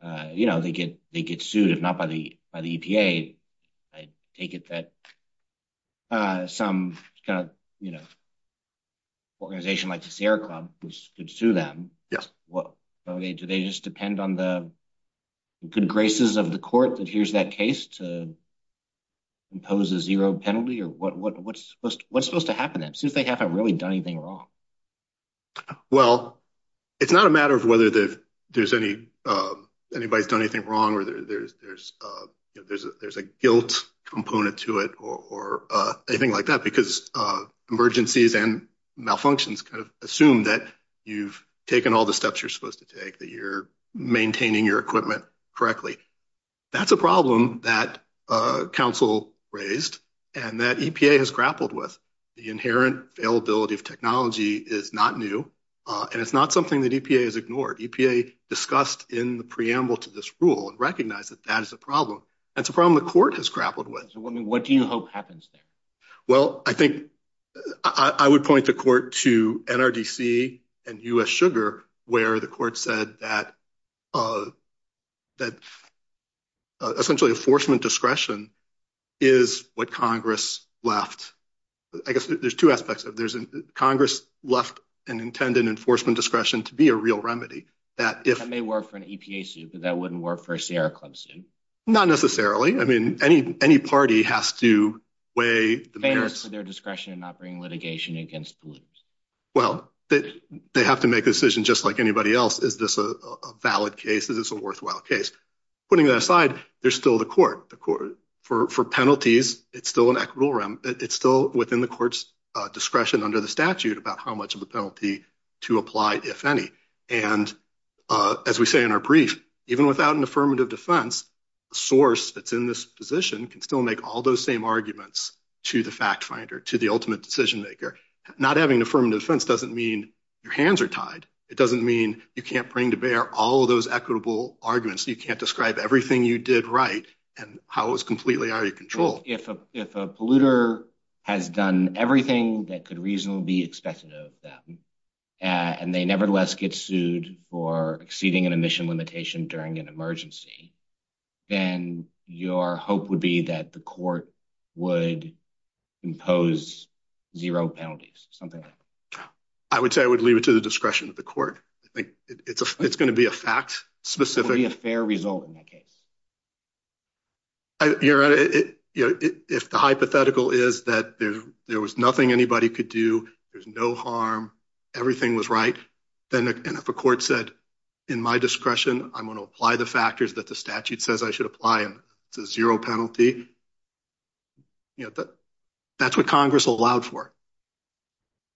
they get sued, if not by the EPA. I take it that some kind of organization like the Sierra Club could sue them. Do they just depend on the good graces of the court that hears that case to impose a zero penalty? What's supposed to happen then, since they haven't really done anything wrong? Well, it's not a matter of whether anybody's done anything wrong or there's a guilt component to it or anything like that, because emergencies and malfunctions kind of assume that you've taken all the steps you're supposed to take, that you're maintaining your equipment correctly. That's a problem that counsel raised and that EPA has grappled with. The inherent availability of technology is not new, and it's not something that EPA has ignored. EPA discussed in the preamble to this rule and recognized that that is a problem. That's a problem the court has grappled with. What do you hope happens there? Well, I think I would point the court to NRDC and U.S. Sugar, where the court said that essentially enforcement discretion is what Congress left. I guess there's two aspects of it. Congress left an intended enforcement discretion to be a real remedy. That may work for an EPA suit, but that wouldn't work for a Sierra Club suit. Not necessarily. I mean, any party has to weigh the merits of their discretion in not bringing litigation against polluters. Well, they have to make a decision just like anybody else. Is this a valid case? Is this a worthwhile case? Putting that aside, there's still the court. For penalties, it's still in equitable realm. It's still within the court's discretion under the statute about how much of a penalty to apply, if any. As we say in our brief, even without an affirmative defense, the source that's in this position can still make all those same arguments to the fact finder, to the ultimate decision maker. Not having an affirmative defense doesn't mean your hands are tied. It doesn't mean you can't bring to bear all of those equitable arguments. You can't describe everything you did right and how it was completely out of your control. If a polluter has done everything that could reasonably be expected of them and they nevertheless get sued for exceeding an emission limitation during an emergency, then your hope would be that the court would impose zero penalties, something like that. I would say I would leave it to the discretion of the court. I think it's going to be a fact specific. It would be a fair result in that case. If the hypothetical is that there was nothing anybody could do, there's no harm, everything was right, then if a court said, in my discretion, I'm going to apply the factors that the statute says I should apply to zero penalty, that's what Congress will allow for.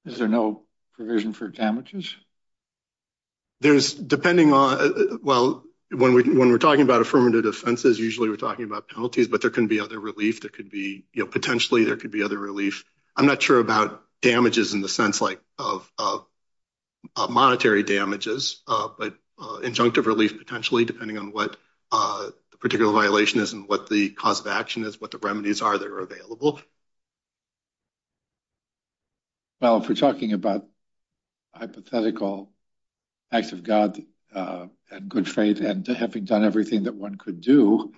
Is there no provision for damages? When we're talking about affirmative defenses, usually we're talking about penalties, but there can be other relief. Potentially there could be other relief. I'm not sure about damages in the sense of monetary damages, but injunctive relief potentially depending on what the particular violation is and what the cause of action is, what the remedies are that are available. Well, if we're talking about hypothetical act of God and good faith and having done everything that one could do,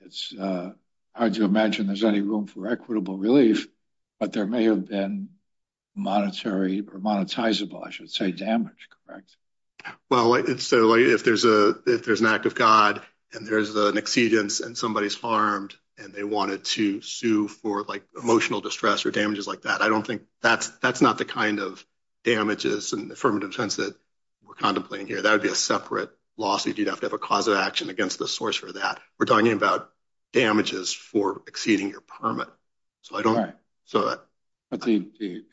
it's hard to imagine there's any room for equitable relief, but there may have been monetary or monetizable, I should say, damage, correct? Well, if there's an act of God and there's an exedent and somebody's harmed and they wanted to sue for emotional distress or damages like that, I don't think that's the kind of damages in the affirmative defense that we're contemplating here. That would be a separate lawsuit. You'd have to have a cause of action against the source for that. We're talking about damages for exceeding your permit. The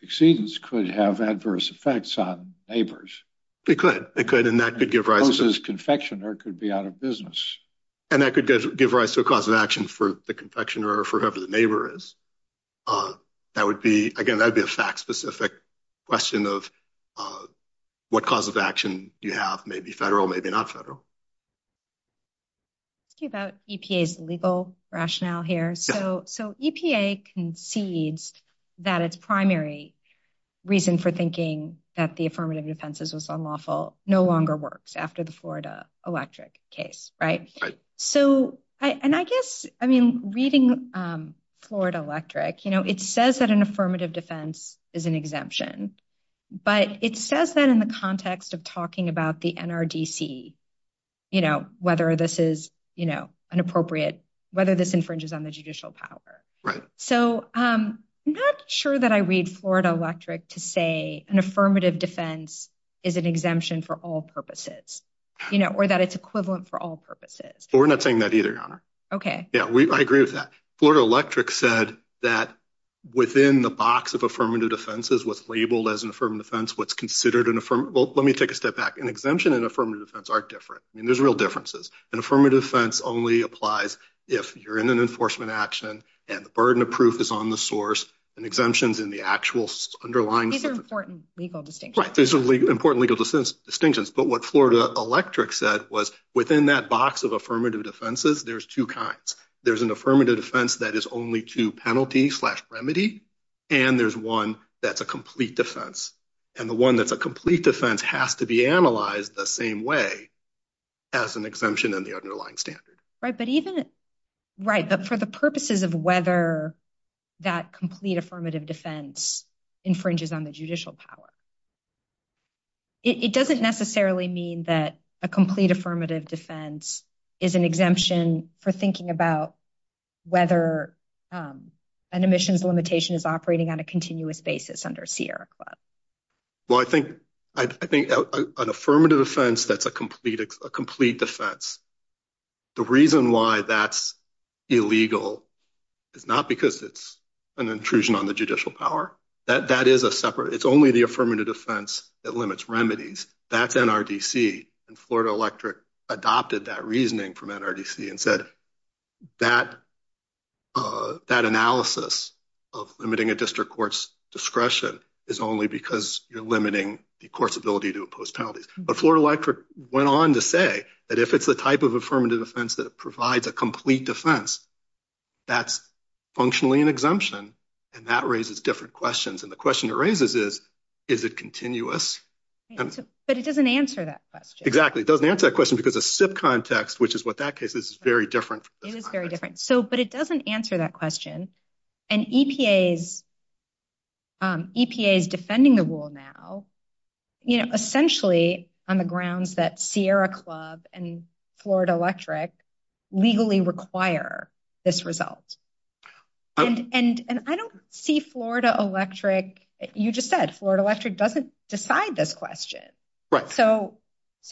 exedents could have adverse effects on neighbors. They could, and that could give rise to- Closes confectioner could be out of business. And that could give rise to a cause of action for the confectioner or for whoever the neighbor is. That would be, again, that'd be a fact-specific question of what cause of action you have, maybe federal, maybe not federal. About EPA's legal rationale here. So EPA concedes that its primary reason for thinking that the affirmative defense is unlawful no longer works after the Florida Electric case. Reading Florida Electric, it says that an affirmative defense is an exemption, but it says that in the context of talking about the NRDC, whether this is an appropriate, whether this infringes on the judicial power. I'm not sure that I read Florida Electric to say an affirmative defense is an exemption for all purposes, or that it's equivalent for all purposes. We're not saying that either, Your Honor. Okay. I agree with that. Florida Electric said that within the box of affirmative defenses, what's labeled as an affirmative defense, what's considered an affirmative, well, let me take a step back. An exemption and affirmative defense are different. There's real differences. An affirmative defense only applies if you're in an enforcement action and the burden of proof is on the source, and exemptions in the actual underlying- These are important legal distinctions. Right. These are important legal distinctions, but what Florida Electric said was within that box of affirmative defenses, there's two kinds. There's an affirmative defense that is only to penalty slash remedy, and there's one that's a complete defense, and the one that's a complete defense has to be analyzed the same way as an exemption in the underlying standard. Right. But even- Right. For the purposes of whether that complete affirmative defense infringes on the judicial power, it doesn't necessarily mean that a complete affirmative defense is an exemption for thinking about whether an emissions limitation is operating on a continuous basis under Sierra Club. Well, I think an affirmative defense, that's a complete defense. The reason why that's illegal is not because it's an intrusion on the judicial power. That is a separate- It's only the affirmative defense that limits remedies. That's NRDC, and Florida Electric adopted that reasoning from NRDC and said, that analysis of limiting a district court's discretion is only because you're limiting the court's ability to impose penalties. But Florida Electric went on to say that if it's a type of affirmative defense that provides a complete defense, that's functionally an exemption, and that raises different questions. And the question it raises is, is it continuous? But it doesn't answer that question. Exactly. It doesn't answer that question because the SIP context, which is what that case is, is very different. It is very different. But it doesn't answer that question. And EPA is defending the rule now, essentially, on the grounds that Sierra Club and Florida Electric legally require this result. And I don't see Florida Electric- You just said Florida Electric doesn't decide this question. So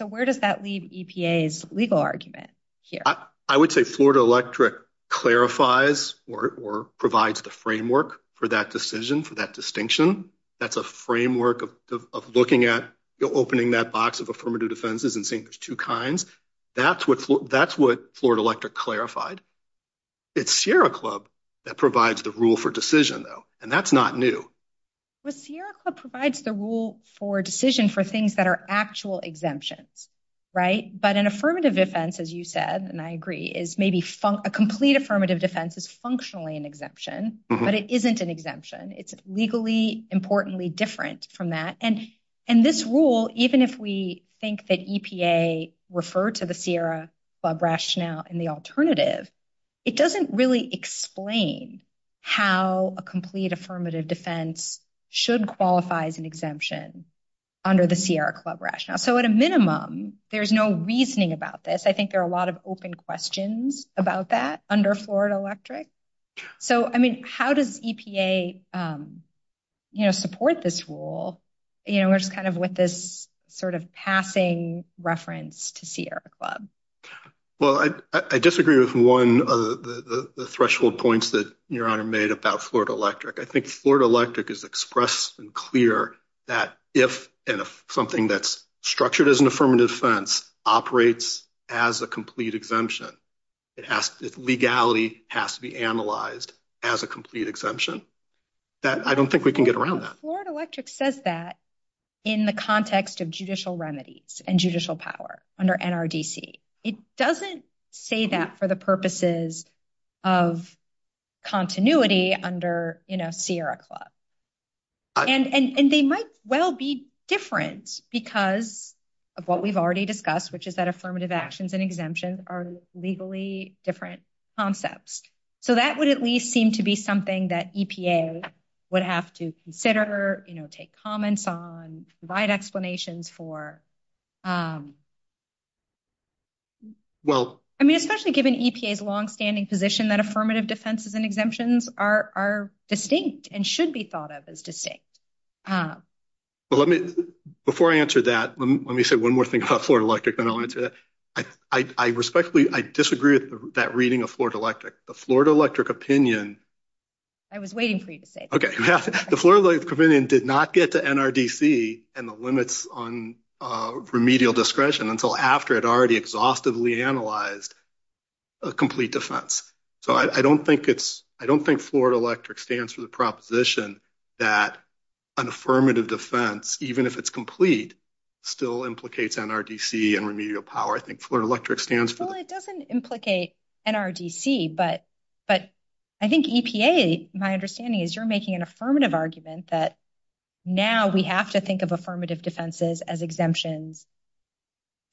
where does that leave EPA's legal argument here? I would say Florida Electric clarifies or provides the framework for that decision, for that distinction. That's a framework of looking at opening that box of affirmative defenses and saying there's two kinds. That's what Florida Electric clarified. It's Sierra Club that provides the rule for decision, though. And that's not new. But Sierra Club provides the rule for decision for things that are actual exemptions, right? But an affirmative defense, as you said, and I agree, is maybe a complete affirmative defense is functionally an exemption, but it isn't an exemption. It's legally, importantly, different from that. And this rule, even if we think that EPA referred to the Sierra Club rationale in the alternative, it doesn't really explain how a complete affirmative defense should qualify as an exemption under the Sierra Club rationale. So at a minimum, there's no reasoning about this. I think there are a lot of open questions about that under Florida Electric. So, I mean, how does EPA, you know, support this rule, you know, which is kind of with this sort of passing reference to Sierra Club? Well, I disagree with one of the threshold points that Your Honor made about Florida Electric. I think Florida Electric has expressed and clear that if something that's structured as an affirmative defense operates as a complete exemption, legality has to be analyzed as a complete exemption. I don't think we can get around that. Florida Electric says that in the context of judicial remedies and judicial power under NRDC. It doesn't say that for the purposes of continuity under, you know, Sierra Club. And they might well be different because of what we've already discussed, which is that affirmative actions and exemptions are legally different concepts. So that would at least seem to be something that EPA would have to consider, you know, take comments on, provide explanations for. I mean, especially given EPA's longstanding position that affirmative defenses and exemptions are distinct and should be thought of as distinct. Well, before I answer that, let me say one more thing about Florida Electric and I want to say that I respectfully disagree with that reading of Florida Electric. The Florida Electric opinion... I was waiting for you to say that. The Florida Electric opinion did not get to NRDC and the limits on remedial discretion until after it already exhaustively analyzed a complete defense. So I don't think Florida Electric stands for the proposition that an affirmative defense, even if it's complete, still implicates NRDC and remedial power. I think Florida Electric stands for that. Well, it doesn't implicate NRDC, but I think EPA, my understanding is, you're making an affirmative argument that now we have to think of affirmative defenses as exemptions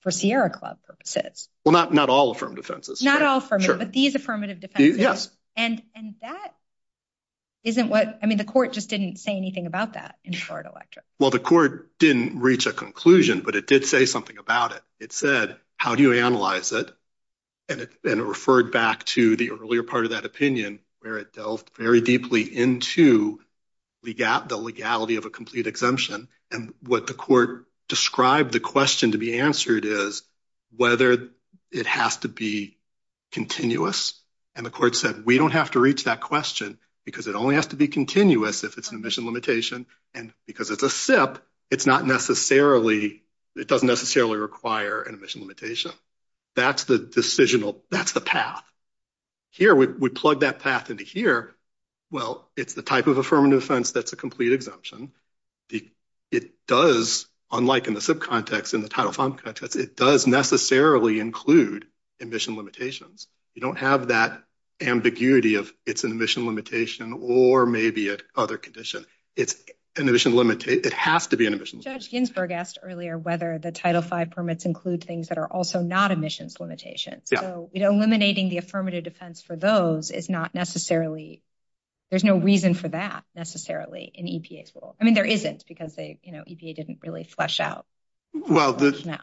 for Sierra Club purposes. Well, not all affirmative defenses. Not all affirmative, but these affirmative defenses. Yes. And that isn't what... I mean, the court just didn't say anything about that in Florida Electric. Well, the court didn't reach a conclusion, but it did say something about it. It said, how do you analyze it? And it referred back to the earlier part of that opinion where it delved very deeply into the legality of a complete exemption. And what the court described the question to be answered is whether it has to be continuous. And the court said, we don't have to reach that question because it only has to be continuous if it's an emission limitation and because it's a SIP, it's not necessarily, it doesn't necessarily require an emission limitation. That's the decisional, that's the path. Here, we plug that path into here. Well, it's the type of affirmative defense that's a complete exemption. It does, unlike in the SIP context, in the Title V contract, it does necessarily include emission limitations. You don't have that ambiguity of it's an emission limitation or maybe a other condition. It has to be an emission limitation. Judge Ginsburg asked earlier whether the Title V permits include things that are also not emissions limitations. So eliminating the affirmative defense for those is not necessarily, there's no reason for that necessarily in EPA's rule. I mean, there isn't because they, you know, EPA didn't really flesh out. Well, to go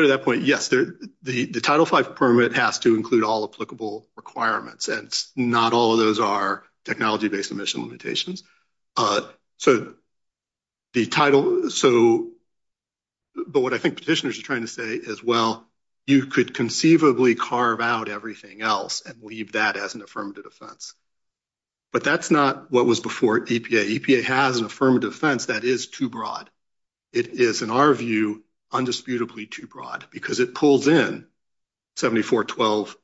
to that point, yes. The Title V permit has to include all applicable requirements and not all of those are technology-based emission limitations. But what I think petitioners are trying to say is, well, you could conceivably carve out everything else and leave that as an affirmative defense. But that's not what was before EPA. EPA has an affirmative defense that is too broad. It is, in our view, undisputably too broad because it pulls in 7412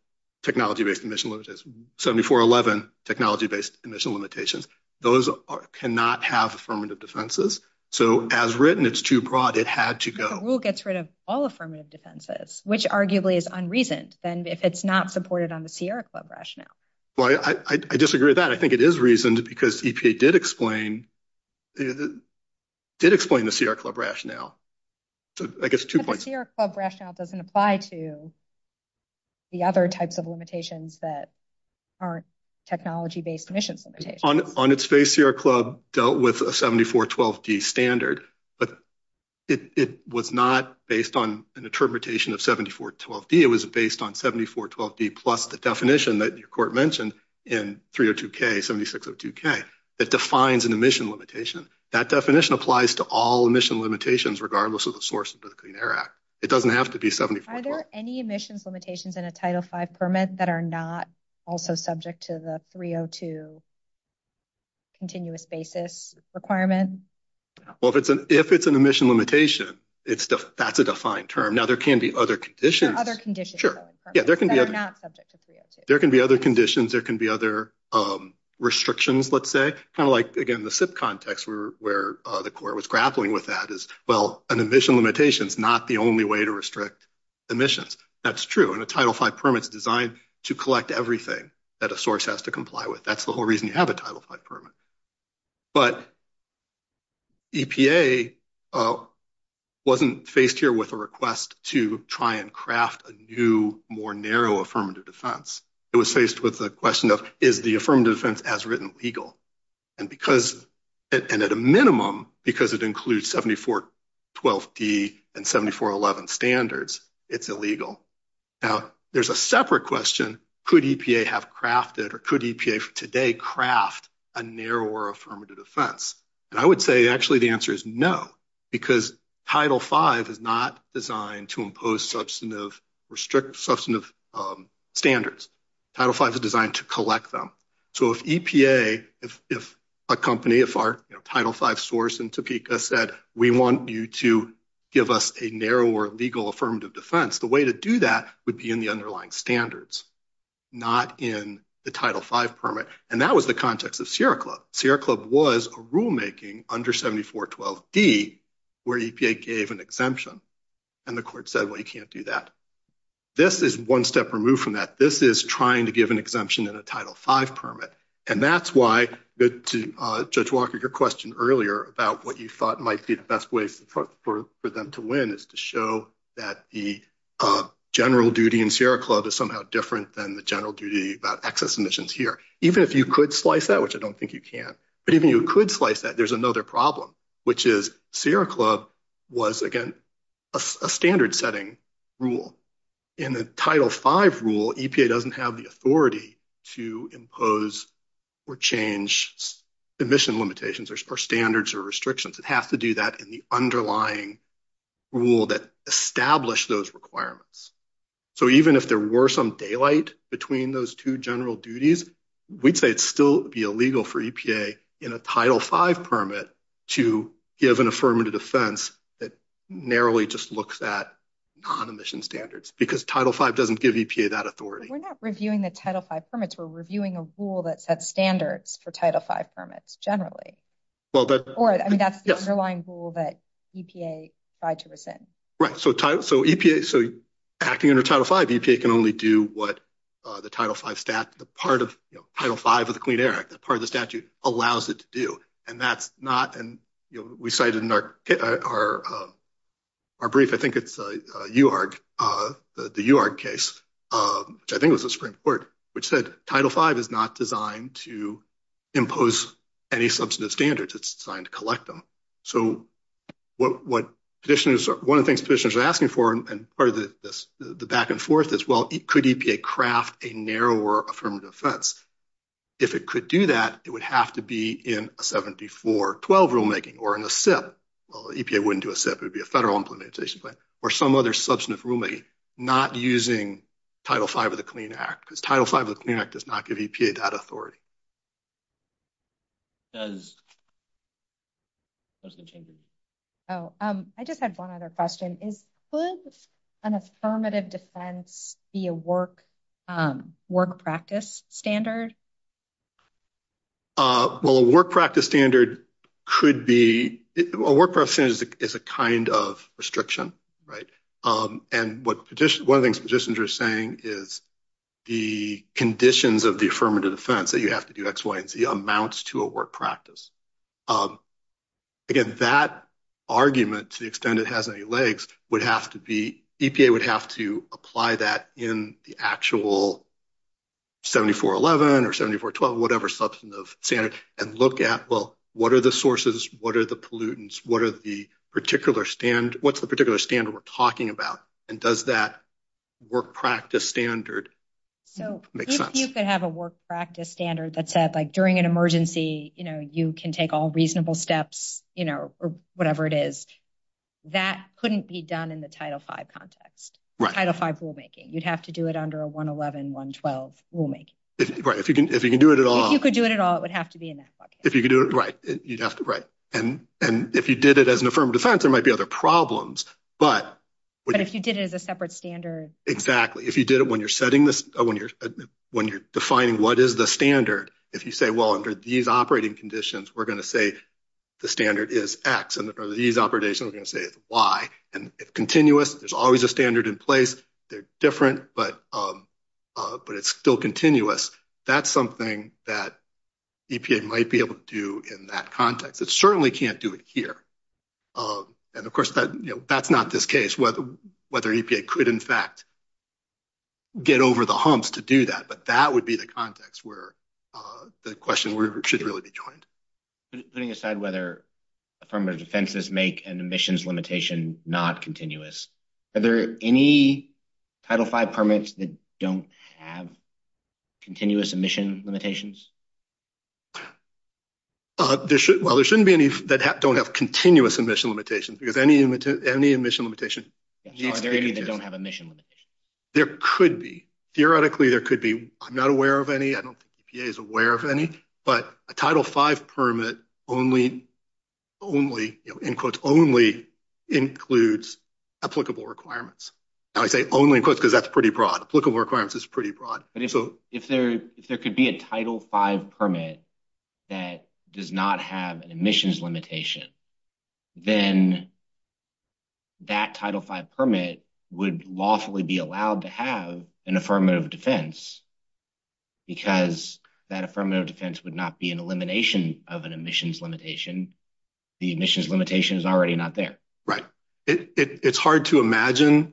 technology-based emission limitations, 7411 technology-based emission limitations. Those cannot have affirmative defenses. So as written, it's too broad. It had to go. The rule gets rid of all affirmative defenses, which arguably is unreasoned if it's not supported on the Sierra Club rationale. Well, I disagree with that. I think it is reasoned because EPA did explain, did explain the Sierra Club rationale. So I guess two points. The Sierra Club rationale doesn't apply to the other types of limitations that aren't technology-based emissions limitations. On its face, Sierra Club dealt with a 7412D standard, but it was not based on an interpretation of 7412D. It was based on 7412D plus the definition that your court mentioned in 302K, 7602K. It defines an emission limitation. That definition applies to all emission limitations, regardless of the source of the Clean Air Act. It doesn't have to be 7412. Are there any emissions limitations in a Title V permit that are not also subject to the 302 continuous basis requirement? Well, if it's an emission limitation, that's a defined term. Now, there can be other conditions. Other conditions. Sure. That are not subject to 302. There can be other conditions. There can be other restrictions, let's say. Kind of like, again, the SIP context where the court was grappling with that is, well, an emission limitation is not the only way to restrict emissions. That's true. And a Title V permit is designed to collect everything that a source has to comply with. That's the whole reason you have a Title V permit. But EPA wasn't faced here with a request to try and craft a new, more narrow affirmative defense. It was faced with the question of, is the affirmative defense as written legal? And because, and at a minimum, because it includes 7412P and 7411 standards, it's illegal. Now, there's a separate question. Could EPA have crafted, or could EPA today craft, a narrower affirmative defense? And I would say, actually, the answer is no. Because Title V is not designed to impose substantive, restrict substantive standards. Title V is designed to collect them. So if EPA, if a company, if our Title V source in Topeka said, we want you to give us a narrower legal affirmative defense, the way to do that would be in the underlying standards, not in the Title V permit. And that was the context of Sierra Club. Sierra Club was a rulemaking under 7412D where EPA gave an exemption. And the court said, well, you can't do that. This is one step removed from that. This is trying to give an exemption in a Title V permit. And that's why, to Judge Walker, your question earlier about what you thought might be the best ways for them to win is to show that the general duty in Sierra Club is somehow different than the general duty about excess emissions here. Even if you could slice that, which I don't think you can, even if you could slice that, there's another problem, which is Sierra Club was, again, a standard setting rule. In a Title V rule, EPA doesn't have the authority to impose or change emission limitations or standards or restrictions. It'd have to do that in the underlying rule that established those requirements. So even if there were some daylight between those two general duties, we'd say it'd still be illegal for EPA in a Title V permit to give an affirmative defense that narrowly just looks at non-emission standards, because Title V doesn't give EPA that authority. We're not reviewing the Title V permits. We're reviewing a rule that sets standards for Title V permits generally. Or that's the underlying rule that EPA tried to listen. Right. So acting under Title V, EPA can only do what the Title V of the Clean Air Act, that part of the statute, allows it to do. And we cited in our brief, I think it's the UARG case, which I think was a Supreme Court, which said Title V is not designed to impose any substantive standards. It's designed to collect them. So one of the things petitioners are asking for, and part of the back and forth is, well, could EPA craft a narrower affirmative defense? If it could do that, it would have to be in a 7412 rulemaking or in a SIP. Well, EPA wouldn't do a SIP. It would be a Federal Implementation Plan or some other substantive rulemaking, not using Title V of the Clean Air Act, because Title V of the Clean Air Act does not give EPA that authority. I just had one other question. Could an affirmative defense be a work practice standard Well, a work practice standard could be, a work practice standard is a kind of restriction, right? And one of the things petitioners are saying is the conditions of the affirmative defense that you have to do X, Y, and Z amounts to a work practice. Again, that argument, to the extent it has any legs, would have to be, EPA would have to apply that in the actual 7411 or 7412, whatever substantive standard, and look at, well, what are the sources? What are the pollutants? What's the particular standard we're talking about? And does that work practice standard make sense? If you could have a work practice standard that said, like, during an emergency, you can take all reasonable steps or whatever it is, that couldn't be done in the Title V context, Title V rulemaking. You'd have to do it under a 111, 112 rulemaking. Right, if you can do it at all. If you could do it at all, it would have to be in that context. If you could do it, right, you'd have to, right. And if you did it as an affirmative defense, there might be other problems, but... But if you did it as a separate standard... Exactly, if you did it when you're setting this, when you're defining what is the standard, if you say, well, under these operating conditions, we're going to say the standard is X, and under these operations, we're going to say it's Y, and it's continuous, there's always a standard in place, they're different, but it's still continuous. That's something that EPA might be able to do in that context. It certainly can't do it here. And, of course, that's not this case, whether EPA could, in fact, get over the humps to do that, but that would be the context where the question should really be joined. Putting aside whether affirmative defenses make an emissions limitation not continuous, are there any Title V permits that don't have continuous emission limitations? Well, there shouldn't be any that don't have continuous emission limitations, because any emission limitation... Are there any that don't have emission limitations? There could be. Theoretically, there could be. I'm not aware of any. I don't think EPA is aware of any, but a Title V permit only, in quotes, only includes applicable requirements. I say only, in quotes, because that's pretty broad. Applicable requirements is pretty broad. If there could be a Title V permit that does not have an emissions limitation, then that Title V permit would lawfully be allowed to have an affirmative defense, because that affirmative defense would not be an elimination of an emissions limitation. The emissions limitation is already not there. Right. It's hard to imagine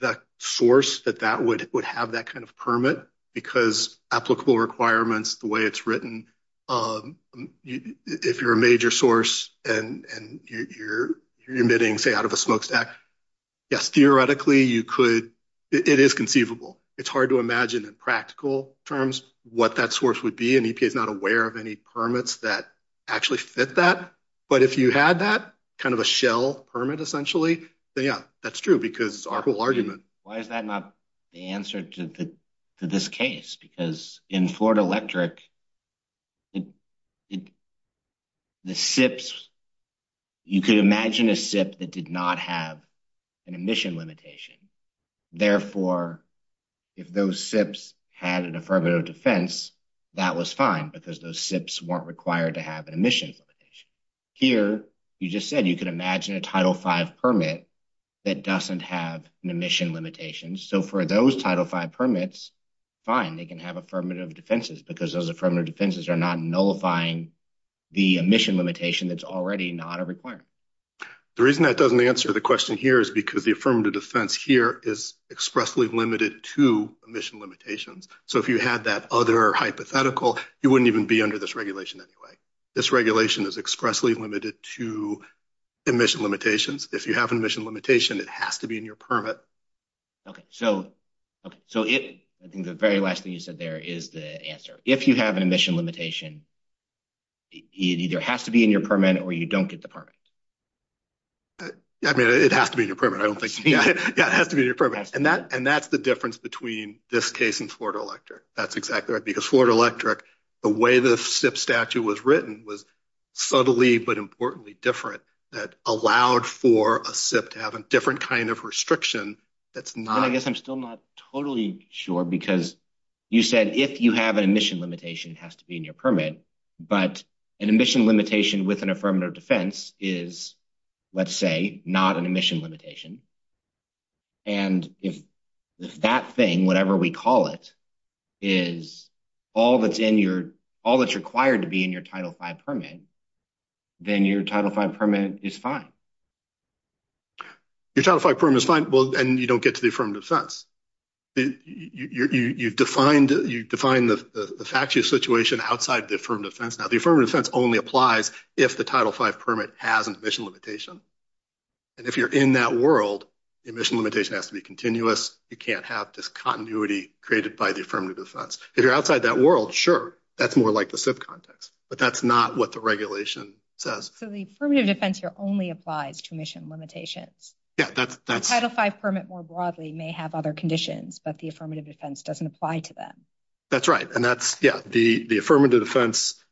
the source that that would have that kind of permit, because applicable requirements, the way it's written, if you're a major source and you're emitting, say, out of a smokestack, yes, theoretically, you could... It is conceivable. It's hard to imagine in practical terms what that source would be, and EPA is not aware of any permits that actually fit that. But if you had that, kind of a shell permit, essentially, then, yeah, that's true, because it's our whole argument. Why is that not the answer to this case? Because in Florida Electric, the SIPs, you can imagine a SIP that did not have an emission limitation. Therefore, if those SIPs had an affirmative defense, that was fine, because those SIPs weren't required to have an emission limitation. Here, you just said you could imagine a Title V permit that doesn't have an emission limitation. So, for those Title V permits, fine. They can have affirmative defenses, because those affirmative defenses are not nullifying the emission limitation that's already not a requirement. The reason that doesn't answer the question here is because the affirmative defense here is expressly limited to emission limitations. So, if you had that other hypothetical, you wouldn't even be under this regulation anyway. This regulation is expressly limited to emission limitations. If you have an emission limitation, it has to be in your permit. Okay. So, I think the very last thing you said there is the answer. If you have an emission limitation, it either has to be in your permit, or you don't get the permit. I mean, it has to be in your permit. Yeah, it has to be in your permit. And that's the difference between this case and Florida Electric. That's exactly right, because Florida Electric, the way the SIP statute was written was subtly, but importantly, different. It allowed for a SIP to have a different kind of restriction. I guess I'm still not totally sure, because you said if you have an emission limitation, it has to be in your permit. But an emission limitation with an affirmative defense is, let's say, not an emission limitation. And if that thing, whatever we call it, is all that's required to be in your Title V permit, then your Title V permit is fine. Your Title V permit is fine, and you don't get to the affirmative defense. You define the statute situation outside the affirmative defense. Now, the affirmative defense only applies if the Title V permit has an emission limitation. And if you're in that world, the emission limitation has to be continuous. You can't have this continuity created by the affirmative defense. If you're outside that world, sure, that's more like the SIP context. But that's not what the regulation says. So the affirmative defense here only applies to emission limitations. Yeah, that's... The Title V permit, more broadly, may have other conditions, but the affirmative defense doesn't apply to them. That's right. And that's, yeah, the affirmative defense...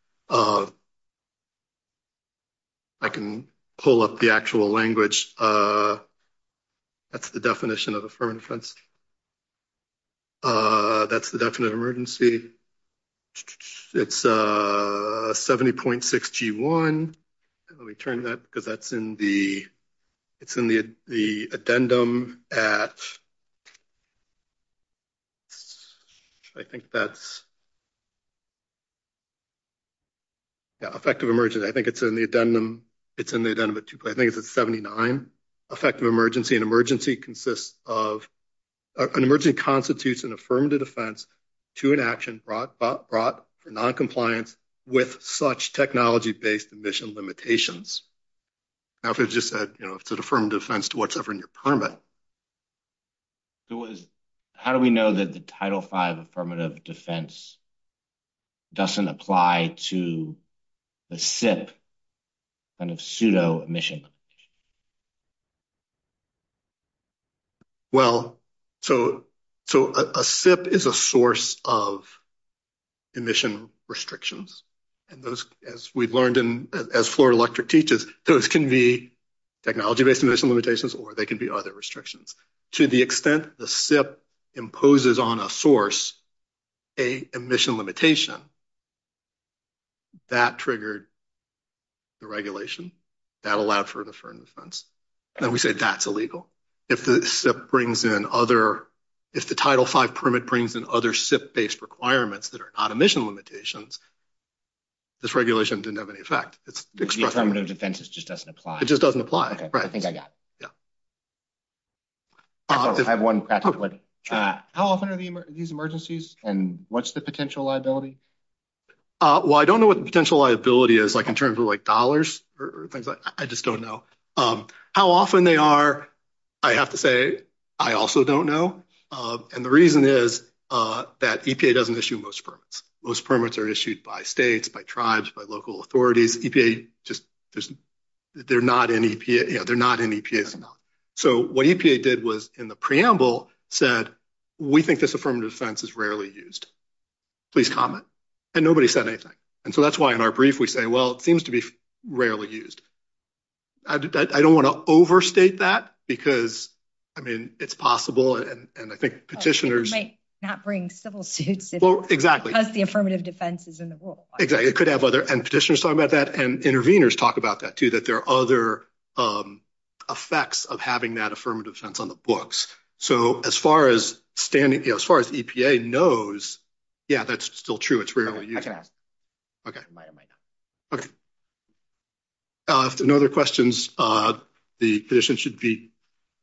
I can pull up the actual language. That's the definition of affirmative defense. That's the definite emergency. It's 70.61. Let me turn that, because that's in the... It's in the addendum at... I think that's... Yeah, effective emergency. I think it's in the addendum. It's in the addendum at 2. I think it's at 79. Effective emergency. An emergency consists of... An emergency constitutes an affirmative defense to an action brought for noncompliance with such technology-based emission limitations. Now, if it's just, you know, it's an affirmative defense to whatever in your permit. How do we know that the Title V affirmative defense doesn't apply to the SIP, kind of pseudo-emission? Well, so a SIP is a source of emission restrictions, and those, as we've learned, as Floor Electric teaches, those can be technology-based emission limitations or they can be audit restrictions. To the extent the SIP imposes on a source, a emission limitation, that triggered the regulation that allowed for the affirmative defense. And we say that's illegal. If the SIP brings in other... If the Title V permit brings in other SIP-based requirements that are not emission limitations, this regulation didn't have any effect. The affirmative defense just doesn't apply. It just doesn't apply. I think I got it. Yeah. I have one practical question. How often are these emergencies, and what's the potential liability? Well, I don't know what the potential liability is, like in terms of dollars or things like that. I just don't know. How often they are, I have to say, I also don't know. And the reason is that EPA doesn't issue most permits. Most permits are issued by states, by tribes, by local authorities. EPA just... They're not in EPA. Yeah, they're not in EPA. So what EPA did was in the preamble said, we think this affirmative defense is rarely used. Please comment. And nobody said anything. And so that's why in our brief we say, well, it seems to be rarely used. I don't want to overstate that because, I mean, it's possible, and I think petitioners... It might not bring civil suits because the affirmative defense is in the rule. Exactly. It could have other... And petitioners talk about that, too, that there are other effects of having that affirmative defense on the books. So as far as standing... As far as EPA knows, yeah, that's still true. It's rarely used. Okay. Okay. Okay. If there are no other questions, the petition should be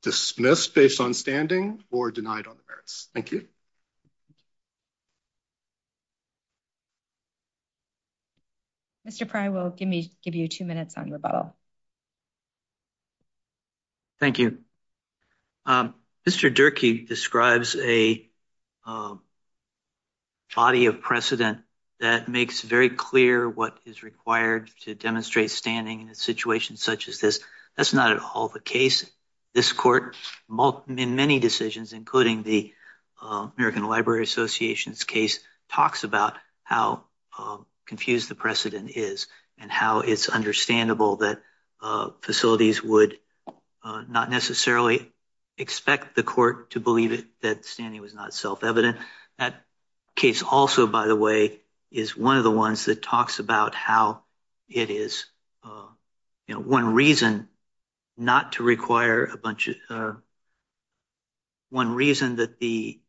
dismissed based on standing or denied on the merits. Thank you. Mr. Pry will give you two minutes on rebuttal. Thank you. Mr. Durkee describes a body of precedent that makes very clear what is required to demonstrate standing in a situation such as this. That's not at all the case. This court, in many decisions, including the American Library Association's case, talks about how confused the precedent is and how it's understandable that facilities would not necessarily expect the court to believe that standing was not self-evident. That case also, by the way, is one of the ones that talks about how it is one reason not to require a bunch of... One reason that the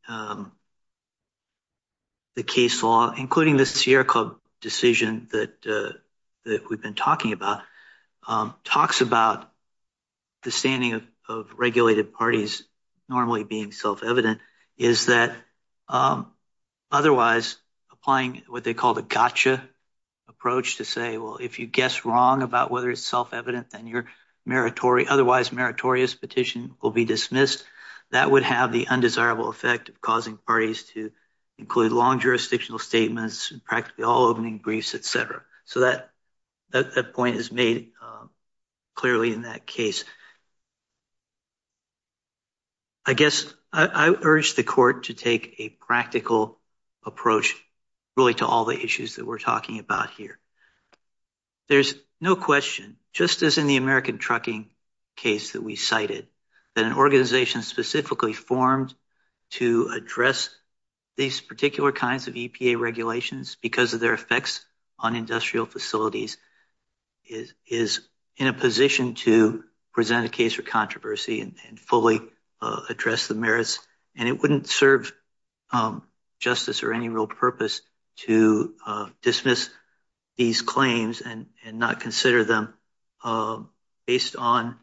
case law, including the Sierra Club decision that we've been talking about, talks about the standing of regulated parties normally being self-evident is that otherwise applying what they call the gotcha approach to say, well, if you guess wrong about whether it's self-evident, then your otherwise meritorious petition will be dismissed. That would have the undesirable effect of causing parties to include long jurisdictional statements and practically all opening briefs, et cetera. So that point is made clearly in that case. I guess I urge the court to take a practical approach, really, to all the issues that we're talking about here. There's no question, just as in the American Trucking case that we cited, that an organization specifically formed to address these particular kinds of EPA regulations because of their effects on industrial facilities is in a position to present a case for controversy and fully address the merits, and it wouldn't serve justice or any real purpose to dismiss these claims and not consider them based on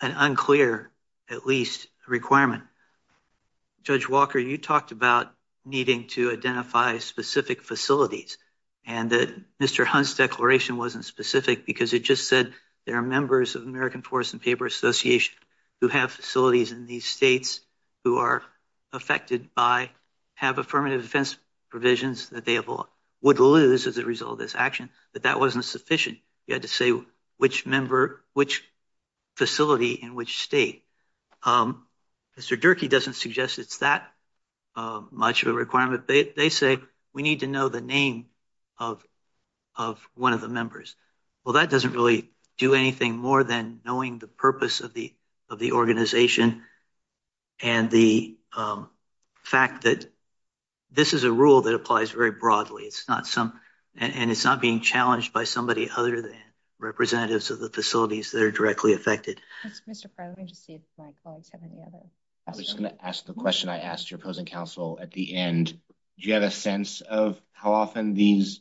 an unclear, at least, requirement. Judge Walker, you talked about needing to identify specific facilities and that Mr. Hunt's declaration wasn't specific because it just said there are members of the American Forest and Paper Association who have facilities in these states who are affected by, have affirmative defense provisions that they would lose as a result of this action, but that wasn't sufficient. You had to say which facility in which state. Mr. Durkee doesn't suggest it's that much of a requirement. They say we need to know the name of one of the members. Well, that doesn't really do anything more than knowing the purpose of the organization and the fact that this is a rule that applies very broadly and it's not being challenged by somebody other than representatives of the facilities that are directly affected. Mr. Crow, let me just see if my slides have any others. I was just going to ask the question I asked your present counsel at the end. Do you have a sense of how often these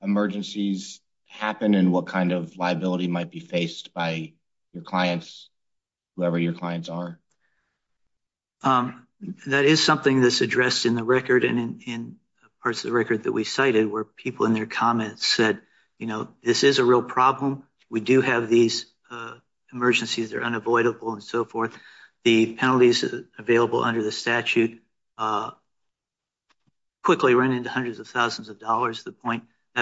emergencies happen and what kind of liability might be faced by your clients, whoever your clients are? That is something that's addressed in the record and in parts of the record that we cited where people in their comments said, you know, this is a real problem. We do have these emergencies. They're unavoidable and so forth. The penalties available under the statute quickly run into hundreds of thousands of dollars. That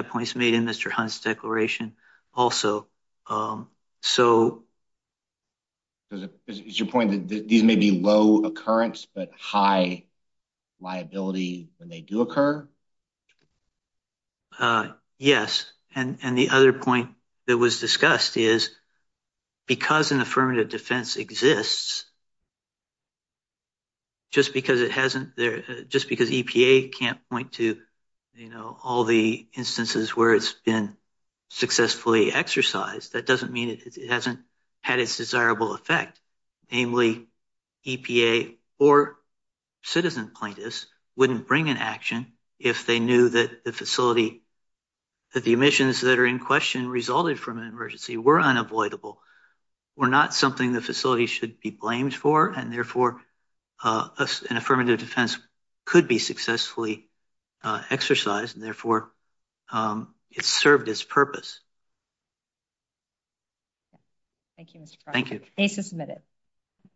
point is made in Mr. Hunt's declaration also. Is your point that these may be low occurrence but high liability when they do occur? Yes, and the other point that was discussed is because an affirmative defense exists, just because EPA can't point to all the instances where it's been successfully exercised, that doesn't mean it hasn't had its desirable effect. Namely, EPA or citizen plaintiffs wouldn't bring an action if they knew that the facility, that the emissions that are in question resulted from an emergency were unavoidable, were not something the facility should be blamed for, and therefore an affirmative defense could be successfully exercised, and therefore it served its purpose. Thank you, Mr. Price. Thank you. Thank you for submitting.